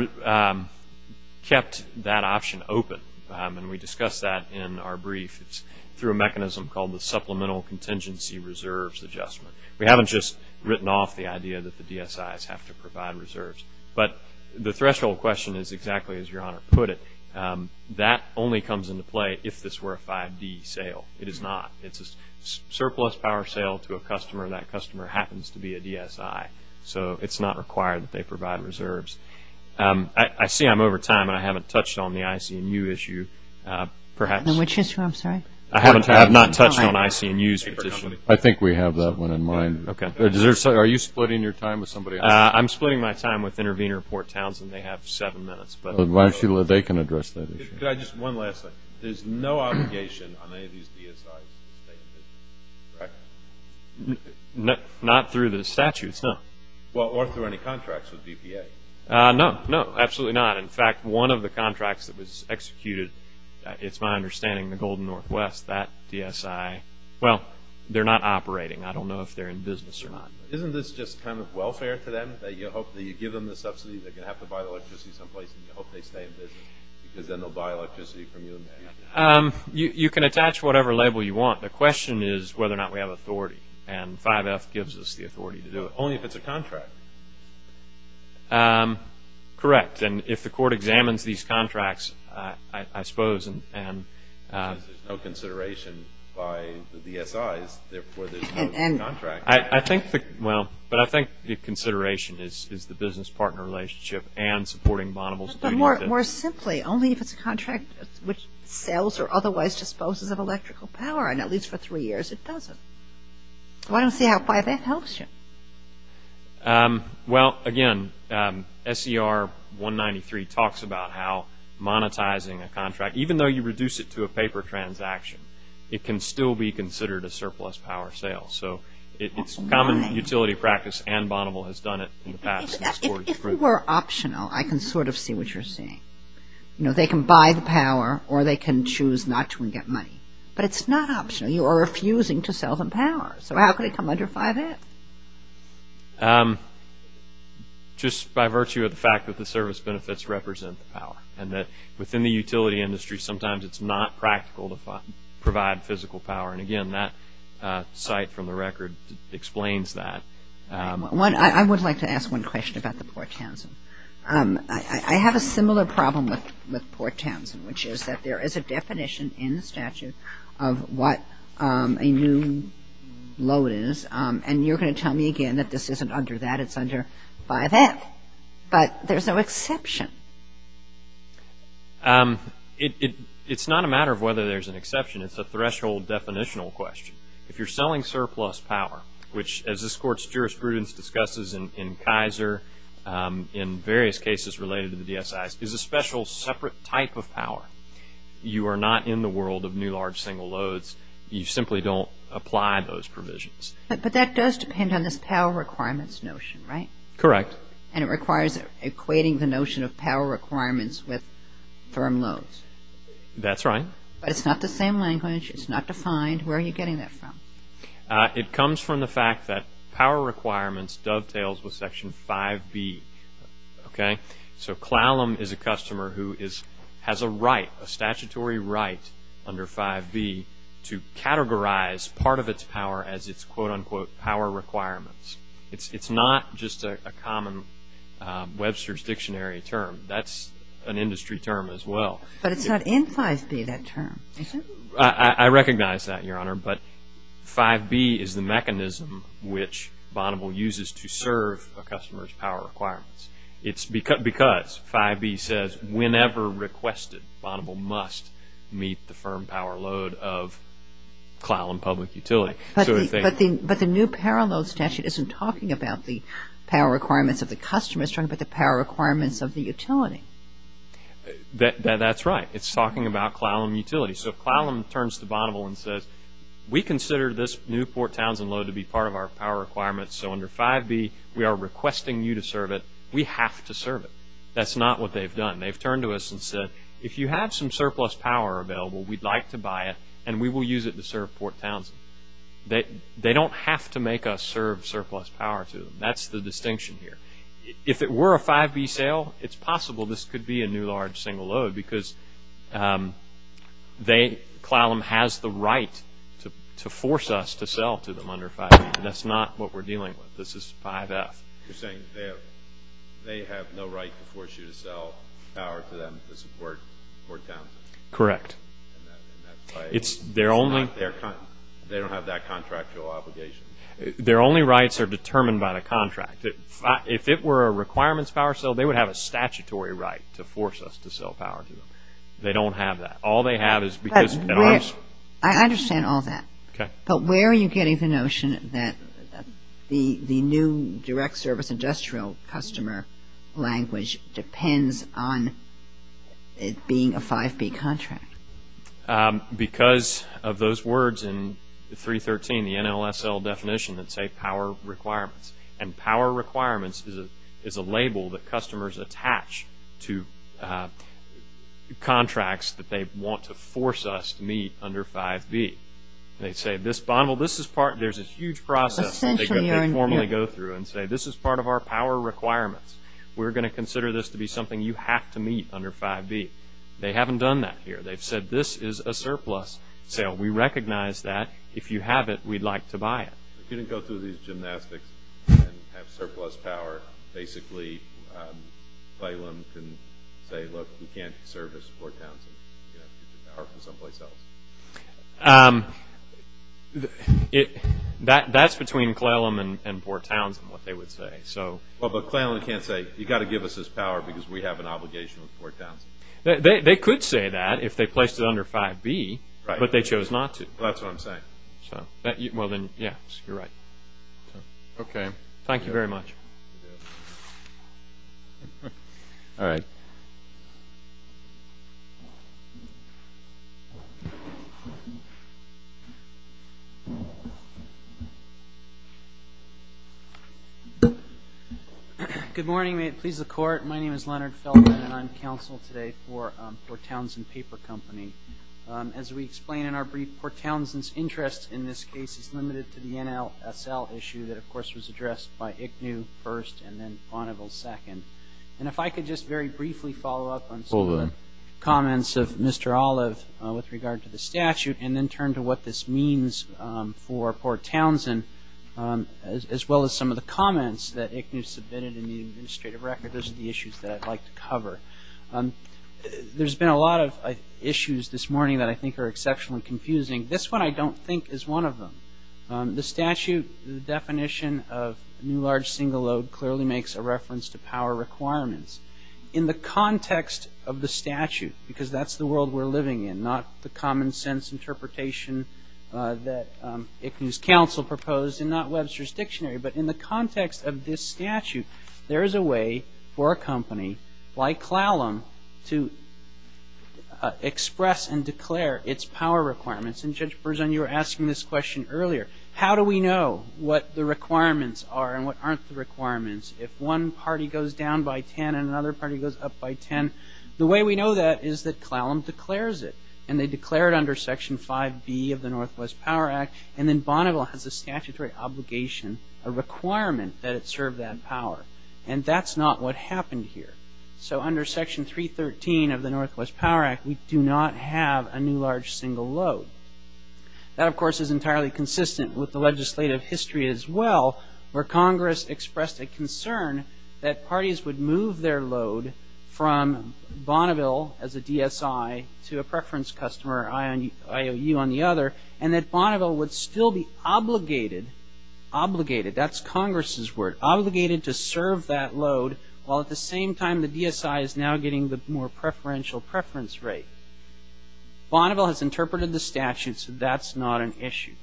kept that option open. And we discussed that in our brief through a mechanism called the Supplemental Contingency Reserves Adjustment. We haven't just written off the idea that the DSIs have to provide reserves. But the threshold question is exactly as your Honor put it, that only comes into play if this were a 5D sale. It is not. It's a surplus power sale to a customer and that customer happens to be a DSI. So it's not required that they provide reserves. I see I'm over time and I haven't touched on the ICMU issue, perhaps. Which issue, I'm sorry? I have not touched on ICMU's issue. I think we have that one in mind. Okay. Are you splitting your time with somebody else? I'm splitting my time with Intervenor Port Townsend. They have seven minutes. But they can address that. Could I just, one last thing. There's no obligation on any of these DSIs to stay in business, correct? Not through the statutes, no. Well, or through any contracts with BPA. No, no, absolutely not. In fact, one of the contracts that was executed, it's my understanding, the Golden Northwest, that DSI, well, they're not operating. I don't know if they're in business or not. Isn't this just kind of welfare for them, that you hope that you give them the subsidy that they have to buy electricity someplace and you hope they stay in business because then they'll buy electricity from you and they'll use it? You can attach whatever label you want. The question is whether or not we have authority. And 5F gives us the authority to do it. Only if it's a contract. Correct. And if the court examines these contracts, I suppose, and. There's no consideration by the DSIs, therefore there's no contract. And. I think, well, but I think the consideration is the business partner relationship and supporting Bonneville's. But more simply, only if it's a contract which sells or otherwise disposes of electrical power, and at least for three years it doesn't. Why don't they have 5F help you? Well, again, SCR 193 talks about how monetizing a contract, even though you reduce it to a paper transaction, it can still be considered a surplus power sale. So it's a common utility practice and Bonneville has done it in the past. If you were optional, I can sort of see what you're saying. You know, they can buy the power or they can choose not to and get money. But it's not optional. You are refusing to sell them power. So how could it come under 5F? Just by virtue of the fact that the service benefits represent the power. And that within the utility industry, sometimes it's not practical to provide physical power. And again, that site from the record explains that. I would like to ask one question about the Port Townsend. I have a similar problem with Port Townsend, which is that there is a definition in the statute of what a new load is, and you're going to tell me again that this isn't under that. It's under 5F, but there's no exception. It's not a matter of whether there's an exception. It's a threshold definitional question. If you're selling surplus power, which as this court's jurisprudence discusses in Kaiser, in various cases related to the DSI, is a special separate type of power. You are not in the world of new large single loads. You simply don't apply those provisions. But that does depend on the power requirements notion, right? Correct. And it requires equating the notion of power requirements with firm loads. That's right. But it's not the same language. It's not defined. Where are you getting that from? It comes from the fact that power requirements dovetails with Section 5B, okay? So Clallam is a customer who has a right, a statutory right under 5B to categorize part of its power as its quote unquote power requirements. It's not just a common Webster's Dictionary term. That's an industry term as well. But it's not in 5B, that term, is it? I recognize that, Your Honor. But 5B is the mechanism which Bonneville uses to serve a customer's power requirements. It's because 5B says whenever requested, Bonneville must meet the firm power load of Clallam Public Utility. But the new power load statute isn't talking about the power requirements of the customer, it's talking about the power requirements of the utility. That's right. It's talking about Clallam Utility. So Clallam turns to Bonneville and says, we consider this new Fort Townsend load to be part of our power requirements, so under 5B we are requesting you to serve it. We have to serve it. That's not what they've done. They've turned to us and said, if you have some surplus power available, we'd like to buy it and we will use it to serve Fort Townsend. They don't have to make us serve surplus power to them. That's the distinction here. If it were a 5B sale, it's possible this could be a new large single load because Clallam has the right to force us to sell to them under 5B. That's not what we're dealing with. This is 5F. You're saying they have no right to force you to sell power to them to support Fort Townsend? Correct. And that's why they don't have that contractual obligation? Their only rights are determined by the contract. If it were a requirements power sale, they would have a statutory right to force us to sell power to them. They don't have that. All they have is because of the contract. I understand all that, but where are you getting the notion that the new direct service industrial customer language depends on it being a 5B contract? Because of those words in 313, the NLSL definition that say power requirements. And power requirements is a label that customers attach to contracts that they want to force us to meet under 5B. They say this bundle, this is part, there's a huge process that they formally go through and say this is part of our power requirements. We're going to consider this to be something you have to meet under 5B. They haven't done that here. They've said this is a surplus sale. We recognize that. If you have it, we'd like to buy it. If you didn't go through these gymnastics and have surplus power, basically, Claylam can say look, we can't service Fort Townsend. You have to get power from someplace else. That's between Claylam and Fort Townsend, what they would say. So. Well, but Claylam can't say you've got to give us this power because we have an obligation with Fort Townsend. They could say that if they placed it under 5B, but they chose not to. That's what I'm saying. So. Well, then, yes, you're right. Okay. Thank you very much. All right. Good morning. May it please the court. My name is Leonard Feldman and I'm counsel today for Fort Townsend Paper Company. As we explain in our brief, Fort Townsend's interest in this case is limited to the NLSL issue that of course was addressed by Ignew first and then Bonneville second. And if I could just very briefly follow up on some of the comments of Mr. Olive with regard to the statute and then turn to what this means for Fort Townsend as well as some of the comments that Ignew submitted in the administrative record. Those are the issues that I'd like to cover. There's been a lot of issues this morning that I think are exceptional and confusing. This one I don't think is one of them. The statute definition of new large single load clearly makes a reference to power requirements. In the context of the statute, because that's the world we're living in, not the common sense interpretation that Ignew's counsel proposed and not Webster's dictionary, but in the context of this statute, there is a way for a company like Clallam to express and declare its power requirements. And Judge Berzun, you were asking this question earlier. How do we know what the requirements are and what aren't the requirements? If one party goes down by 10 and another party goes up by 10, the way we know that is that Clallam declares it. And they declare it under section 5B of the Northwest Power Act and then Bonneville has a statutory obligation, a requirement that it serve that power. And that's not what happened here. So under section 313 of the Northwest Power Act, we do not have a new large single load. That of course is entirely consistent with the legislative history as well where Congress expressed a concern that parties would move their load from Bonneville as a DSI to a preference customer or IOU on the other. And that Bonneville would still be obligated, obligated, that's Congress' word, obligated to serve that load while at the same time the DSI is now getting the more preferential preference rate. Bonneville has interpreted the statute so that's not an issue.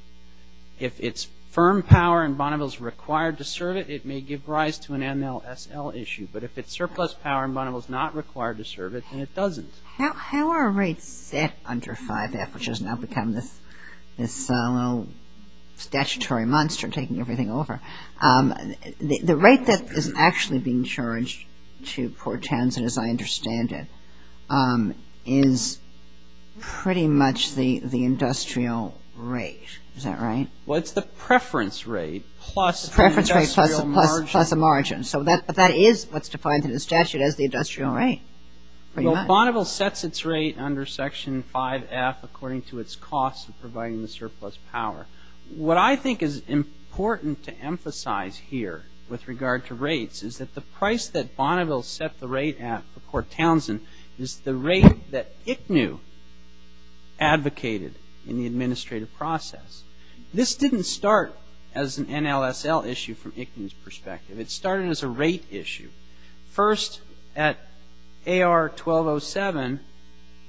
If it's firm power and Bonneville's required to serve it, it may give rise to an MLSL issue. But if it's surplus power and Bonneville's not required to serve it, then it doesn't. How are rates set under 5F which has now become this little statutory monster taking everything over, the rate that is actually being charged to Port Townsend as I understand it is pretty much the industrial rate, is that right? Well it's the preference rate plus the industrial margin. Plus the margin. So that is what's defined in the statute as the industrial rate. Bonneville sets its rate under Section 5F according to its cost of providing the surplus power. What I think is important to emphasize here with regard to rates is that the price that Bonneville set the rate at for Port Townsend is the rate that ICNHU advocated in the administrative process. This didn't start as an MLSL issue from ICNHU's perspective. It started as a rate issue. First, at AR 1207,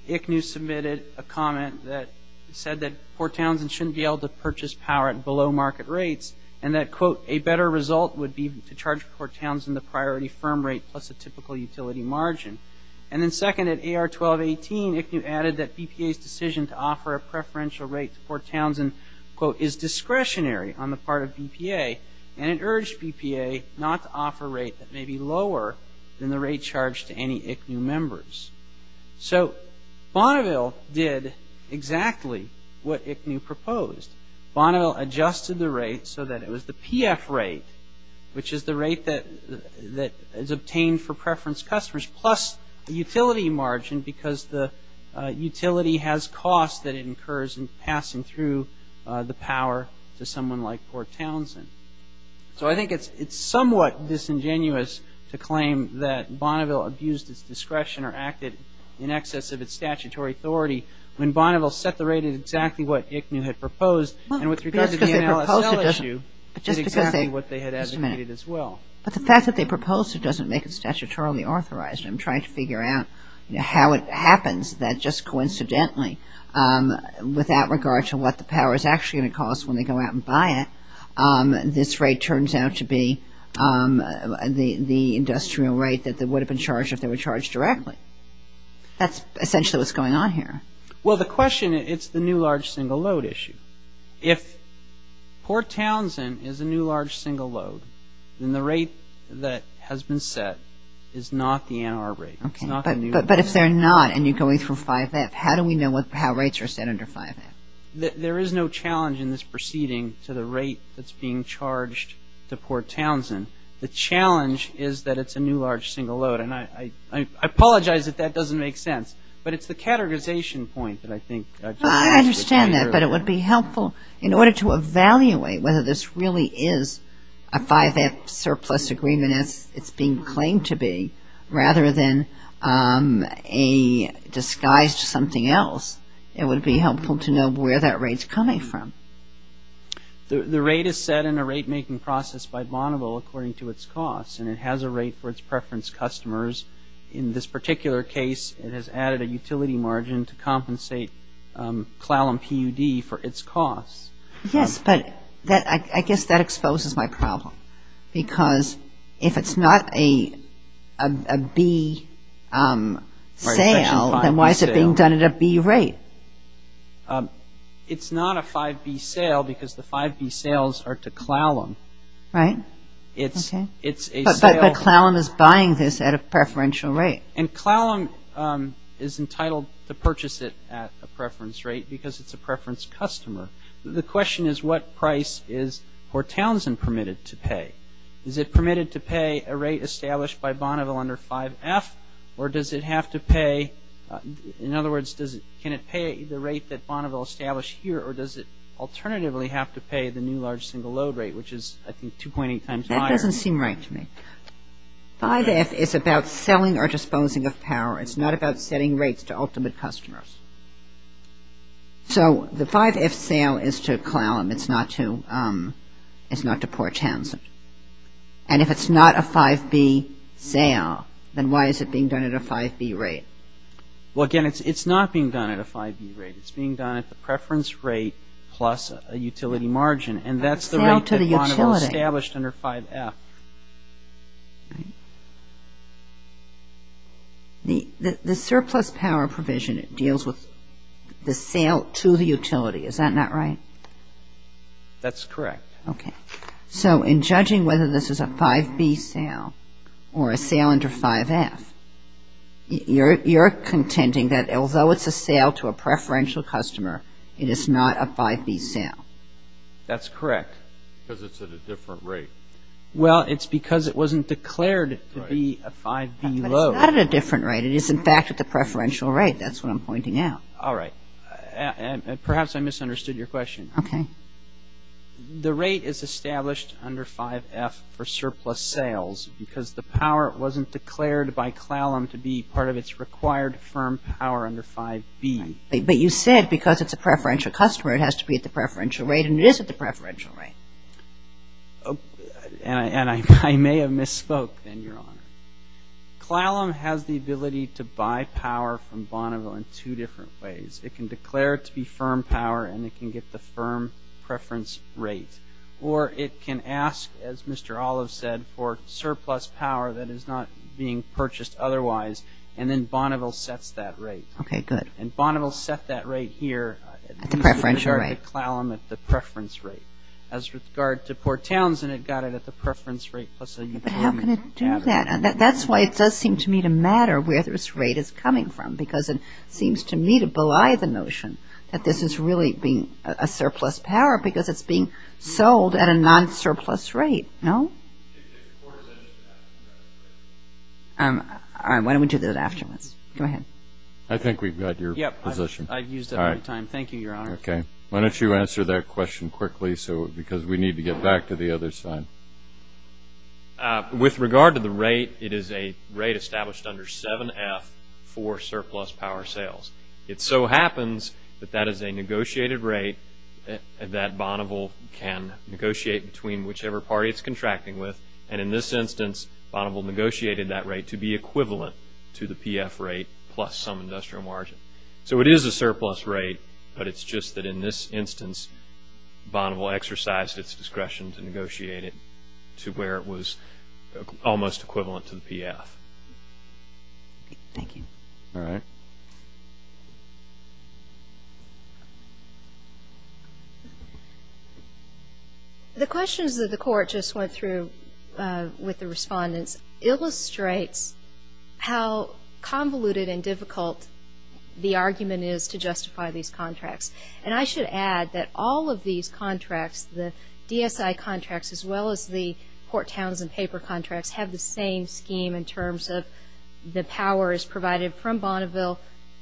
ICNHU submitted a comment that said that Port Townsend shouldn't be able to purchase power at below market rates and that quote, a better result would be to charge Port Townsend the priority firm rate plus a typical utility margin. And then second, at AR 1218, ICNHU added that BPA's decision to offer a preferential rate to Port Townsend quote, is discretionary on the part of BPA and it urged BPA not to offer a rate that may be lower than the rate charged to any ICNHU members. So Bonneville did exactly what ICNHU proposed. Bonneville adjusted the rate so that it was the PF rate which is the rate that is obtained for preference customers plus a utility margin because the utility has cost that it incurs in passing through the power to someone like Port Townsend. So I think it's somewhat disingenuous to claim that Bonneville abused its discretion or acted in excess of its statutory authority when Bonneville set the rate at exactly what ICNHU had proposed and with regard to the NLSL issue, did exactly what they had asked for as well. But the fact that they proposed it doesn't make it statutorily authorized. I'm trying to figure out how it happens that just coincidentally without regard to what the power is actually going to cost when they go out and buy it, this rate turns out to be the industrial rate that would have been charged if they were charged directly. That's essentially what's going on here. Well, the question, it's the new large single load issue. If Port Townsend is a new large single load, then the rate that has been set is not the NR rate. Okay. But if they're not and you're going from 5F, how do we know how rates are set under 5F? There is no challenge in this proceeding to the rate that's being charged to Port Townsend. The challenge is that it's a new large single load. And I apologize if that doesn't make sense. But it's the categorization point that I think that's the issue. I understand that. But it would be helpful in order to evaluate whether this really is a 5F surplus agreement as it's being claimed to be rather than a disguised something else. It would be helpful to know where that rate's coming from. The rate is set in a rate-making process by Bonneville according to its cost. And it has a rate for its preference customers. In this particular case, it has added a utility margin to compensate CLAL and PUD for its cost. Yes. But I guess that exposes my problem. Because if it's not a B sale, then why is it being done at a B rate? It's not a 5B sale because the 5B sales are to CLALM. Right. But CLALM is buying this at a preferential rate. And CLALM is entitled to purchase it at a preference rate because it's a preference customer. The question is what price is Fort Townsend permitted to pay? Is it permitted to pay a rate established by Bonneville under 5F or does it have to pay? In other words, can it pay the rate that Bonneville established here or does it alternatively have to pay the new large single load rate which is I think 2.8 times higher? That doesn't seem right to me. 5F is about selling or disposing of power. It's not about setting rates to ultimate customers. So the 5F sale is to CLALM. It's not to Fort Townsend. And if it's not a 5B sale, then why is it being done at a 5B rate? Well, again, it's not being done at a 5B rate. It's being done at the preference rate plus a utility margin. And that's the rate that Bonneville established under 5F. The surplus power provision deals with the sale to the utility. Is that not right? That's correct. Okay. So in judging whether this is a 5B sale or a sale under 5F, you're contending that although it's a sale to a preferential customer, it is not a 5B sale. That's correct because it's at a different rate. Well, it's because it wasn't declared to be a 5B low. But it's not at a different rate. It is, in fact, at the preferential rate. That's what I'm pointing out. All right. And perhaps I misunderstood your question. Okay. The rate is established under 5F for surplus sales because the power wasn't declared by CLALM to be part of its required firm power under 5B. But you said because it's a preferential customer, it has to be at the preferential rate. And it is at the preferential rate. And I may have misspoke, then, Your Honor. CLALM has the ability to buy power from Bonneville in two different ways. It can declare it to be firm power and it can get the firm preference rate. Or it can ask, as Mr. Olive said, for surplus power that is not being purchased otherwise. And then Bonneville sets that rate. Okay. Good. And Bonneville set that rate here. At the preferential rate. At the CLALM, at the preference rate. As regards to Port Townsend, it got it at the preference rate plus a new payment. But how can it do that? And that's why it does seem to me to matter where this rate is coming from. Because it seems to me to belie the notion that this is really being a surplus power because it's being sold at a non-surplus rate. No? All right. Why don't we do that afterwards? Go ahead. I think we've got your position. Yep. I used up my time. Thank you, Your Honor. Okay. Why don't you answer that question quickly. So, because we need to get back to the other slide. With regard to the rate, it is a rate established under 7F for surplus power sales. It so happens that that is a negotiated rate that Bonneville can negotiate between whichever party it's contracting with. And in this instance, Bonneville negotiated that rate to be equivalent to the PF rate plus some industrial margin. So, it is a surplus rate. But it's just that in this instance, Bonneville exercised its discretion to negotiate it to where it was almost equivalent to the PF. Thank you. All right. The questions that the court just went through with the respondents illustrate how convoluted and difficult the argument is to justify these contracts. And I should add that all of these contracts, the DSI contracts as well as the Port Towns and Paper contracts have the same scheme in terms of the powers provided from Bonneville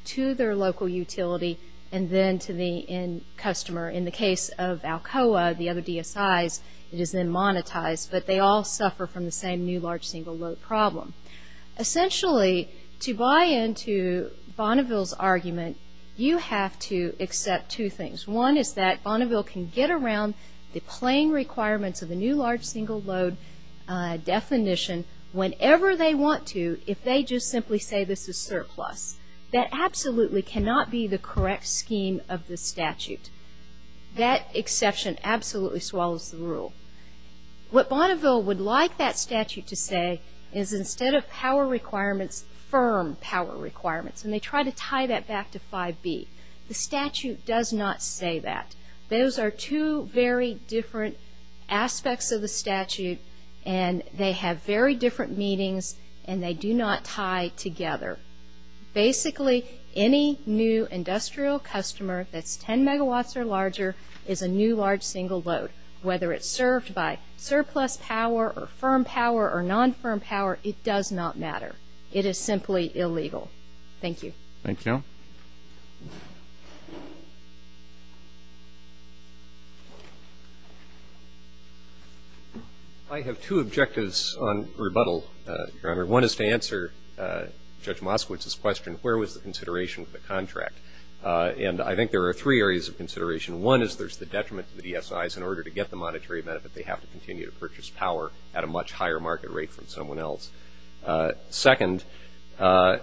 to their local utility and then to the end customer. In the case of Alcoa, the other DSIs, it is then monetized. But they all suffer from the same new large single load problem. Essentially, to buy into Bonneville's argument, you have to accept two things. One is that Bonneville can get around the plain requirements of the new large single load definition whenever they want to if they just simply say this is surplus. That absolutely cannot be the correct scheme of the statute. That exception absolutely swallows the rule. What Bonneville would like that statute to say is instead of power requirements, firm power requirements, and they try to tie that back to 5B. The statute does not say that. Those are two very different aspects of the statute and they have very different meanings and they do not tie together. Basically, any new industrial customer that's 10 megawatts or larger is a new large single load, whether it's served by surplus power or firm power or non-firm power, it does not matter. It is simply illegal. Thank you. Thank you. I have two objectives on rebuttal, Your Honor. One is to answer Judge Moskowitz's question, where was the consideration of the contract? And I think there are three areas of consideration. One is there's the detriment of the DSIs. In order to get the monetary benefit, they have to continue to purchase power at a much higher market rate from someone else. Second, there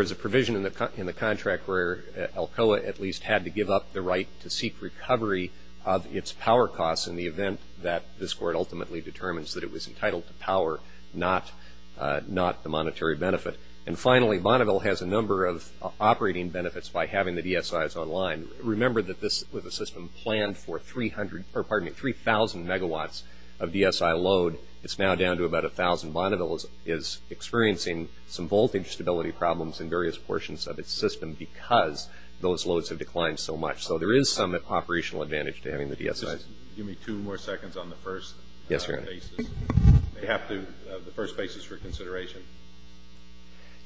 is a provision in the contract where ALCOA at least had to give up the right to seek recovery of its power costs in the event that this court ultimately determines that it was entitled to power, not the monetary benefit. And finally, Bonneville has a number of operating benefits by having the DSIs online. Remember that this was a system planned for 3,000 megawatts of DSI load. It's now down to about 1,000. Bonneville is experiencing some voltage stability problems in various portions of its system because those loads have declined so much. So there is some operational advantage to having the DSIs. Give me two more seconds on the first basis. Yes, Your Honor. They have to, the first basis for consideration.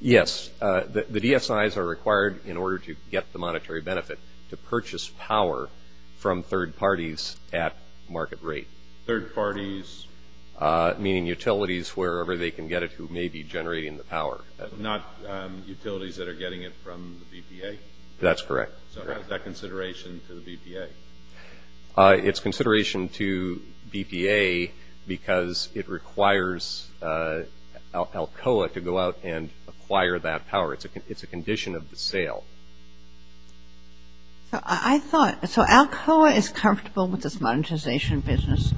Yes. The DSIs are required in order to get the monetary benefit to purchase power from third parties at market rate. Third parties? Meaning utilities wherever they can get it who may be generating the power. Not utilities that are getting it from the BPA? That's correct. So that's that consideration to the BPA? It's consideration to BPA because it requires Alcoa to go out and acquire that power. It's a condition of the sale. I thought, so Alcoa is comfortable with this monetization business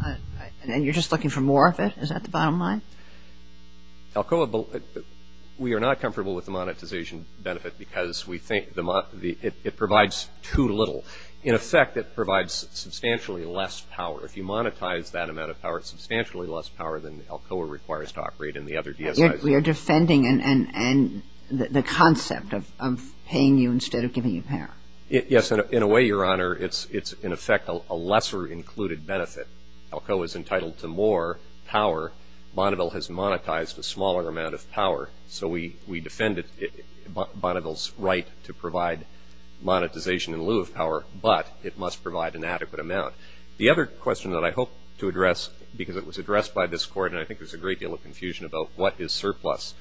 and you're just looking for more of it? Is that the bottom line? Alcoa, we are not comfortable with the monetization benefit because we think the, it provides too little. In effect, it provides substantially less power. If you monetize that amount of power, substantially less power than Alcoa requires to operate in the other DSIs. We are defending the concept of paying you instead of giving you power. Yes. In a way, Your Honor, it's in effect a lesser included benefit. Alcoa is entitled to more power. Bonneville has monetized a smaller amount of power. So we defend it, Bonneville's right to provide monetization in lieu of power, but it must provide an adequate amount. The other question that I hope to address, because it was addressed by this court and I think there's a great deal of confusion about what is surplus.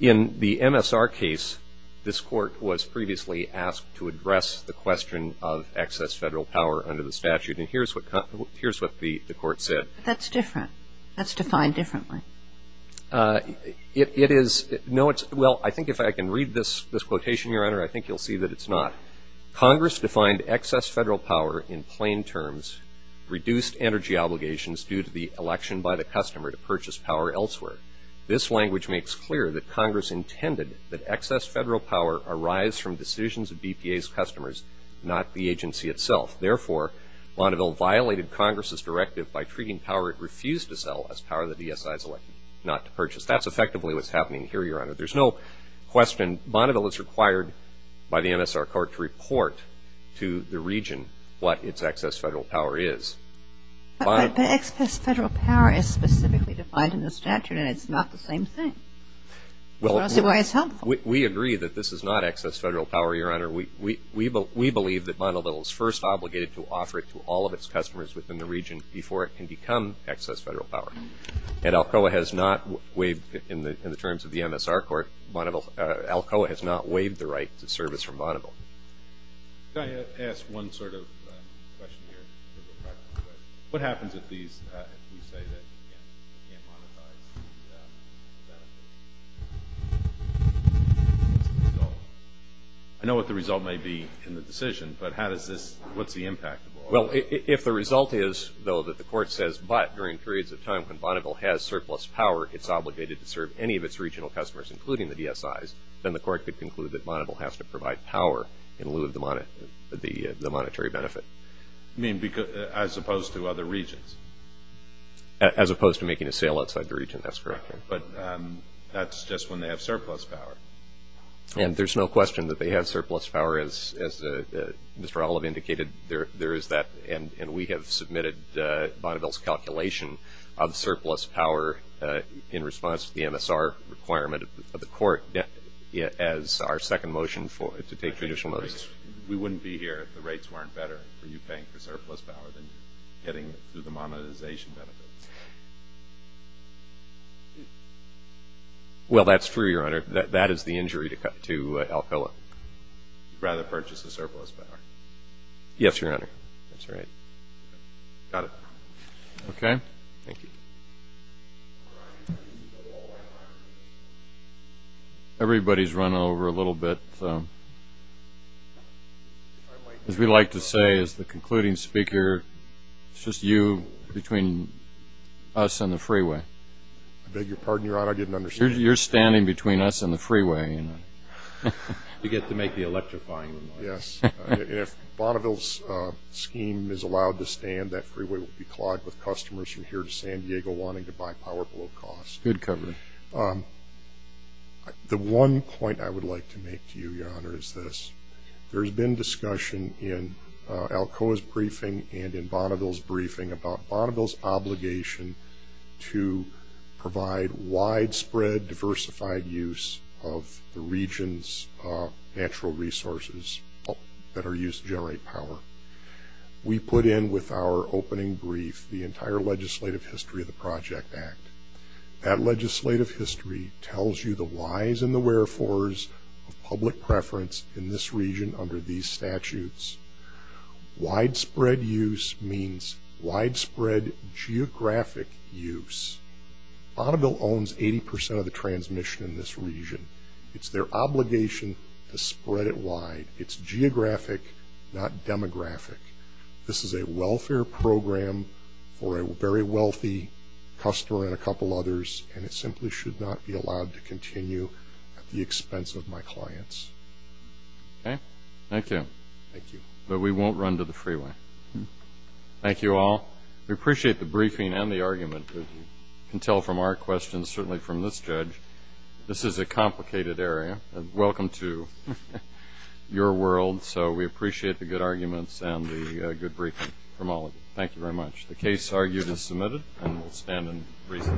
In the MSR case, this court was previously asked to address the question of excess federal power under the statute. And here's what the court said. That's different. That's defined differently. It is, no, it's, well, I think if I can read this quotation, Your Honor, I think you'll see that it's not. Congress defined excess federal power in plain terms, reduced energy obligations due to the election by the customer to purchase power elsewhere. This language makes clear that Congress intended that excess federal power arise from decisions of DPA's customers, not the agency itself. Therefore, Bonneville violated Congress's directive by treating power it refused to sell as power that DSI has elected not to purchase. That's effectively what's happening here, Your Honor. There's no question Bonneville is required by the MSR court to report to the region what its excess federal power is. But excess federal power is specifically defined in the statute and it's not the same thing. Well, we agree that this is not excess federal power, Your Honor. We believe that Bonneville is first obligated to offer it to all of its customers within the region before it can become excess federal power. And Alcoa has not waived, in the terms of the MSR court, Alcoa has not waived the right to service from Bonneville. Can I ask one sort of question here? What happens if these, if we say that we can't, we can't modify the, the, the result? I know what the result may be in the decision, but how does this, what's the impact? Well, if the result is, though, that the court says, but during periods of time when Bonneville has surplus power, it's obligated to serve any of its regional customers, including the DSIs, then the court could conclude that Bonneville has to provide power in lieu of the, the monetary benefit. I mean, because, as opposed to other regions? As opposed to making a sale outside the region, that's correct, Your Honor. But that's just when they have surplus power. And there's no question that they have surplus power, as, as Mr. Olive indicated. There, there is that, and, and we have submitted Bonneville's calculation of surplus power in response to the MSR requirement of the court as our second motion for, to take additional motions. We wouldn't be here if the rates weren't better, if you think the surplus power than getting through the monetization benefit. Well, that's true, Your Honor. That, that is the injury to, to Alcoa. You'd rather purchase the surplus power. Yes, Your Honor. That's right. Got it. Okay. Thank you. Everybody's running over a little bit. As we like to say, as the concluding speaker, it's just you between us and the freeway. Beg your pardon, Your Honor, I didn't understand. You're standing between us and the freeway. I mean, you get to make the electrifying remarks. Yes. If Bonneville's scheme is allowed to stand, that freeway will be clogged with customers from here to San Diego wanting to buy power below cost. Good coverage. The one point I would like to make to you, Your Honor, is this. There's been discussion in Alcoa's briefing and in Bonneville's briefing about Bonneville's obligation to provide widespread, diversified use of the region's natural resources that are used to generate power. We put in with our opening brief the entire legislative history of the Project Act. That legislative history tells you the whys and the wherefores of public preference in this region under these statutes. Widespread use means widespread geographic use. Bonneville owns 80% of the transmission in this region. It's their obligation to spread it wide. It's geographic, not demographic. This is a welfare program for a very wealthy customer and a couple others, and it simply should not be allowed to continue at the expense of my clients. Okay. Thank you. Thank you. But we won't run to the freeway. Thank you all. We appreciate the briefing and the argument, as you can tell from our questions, certainly from this judge. This is a complicated area. Welcome to your world. So we appreciate the good arguments and the good briefing from all of you. Thank you very much. The case argued is submitted, and we'll stand and brief.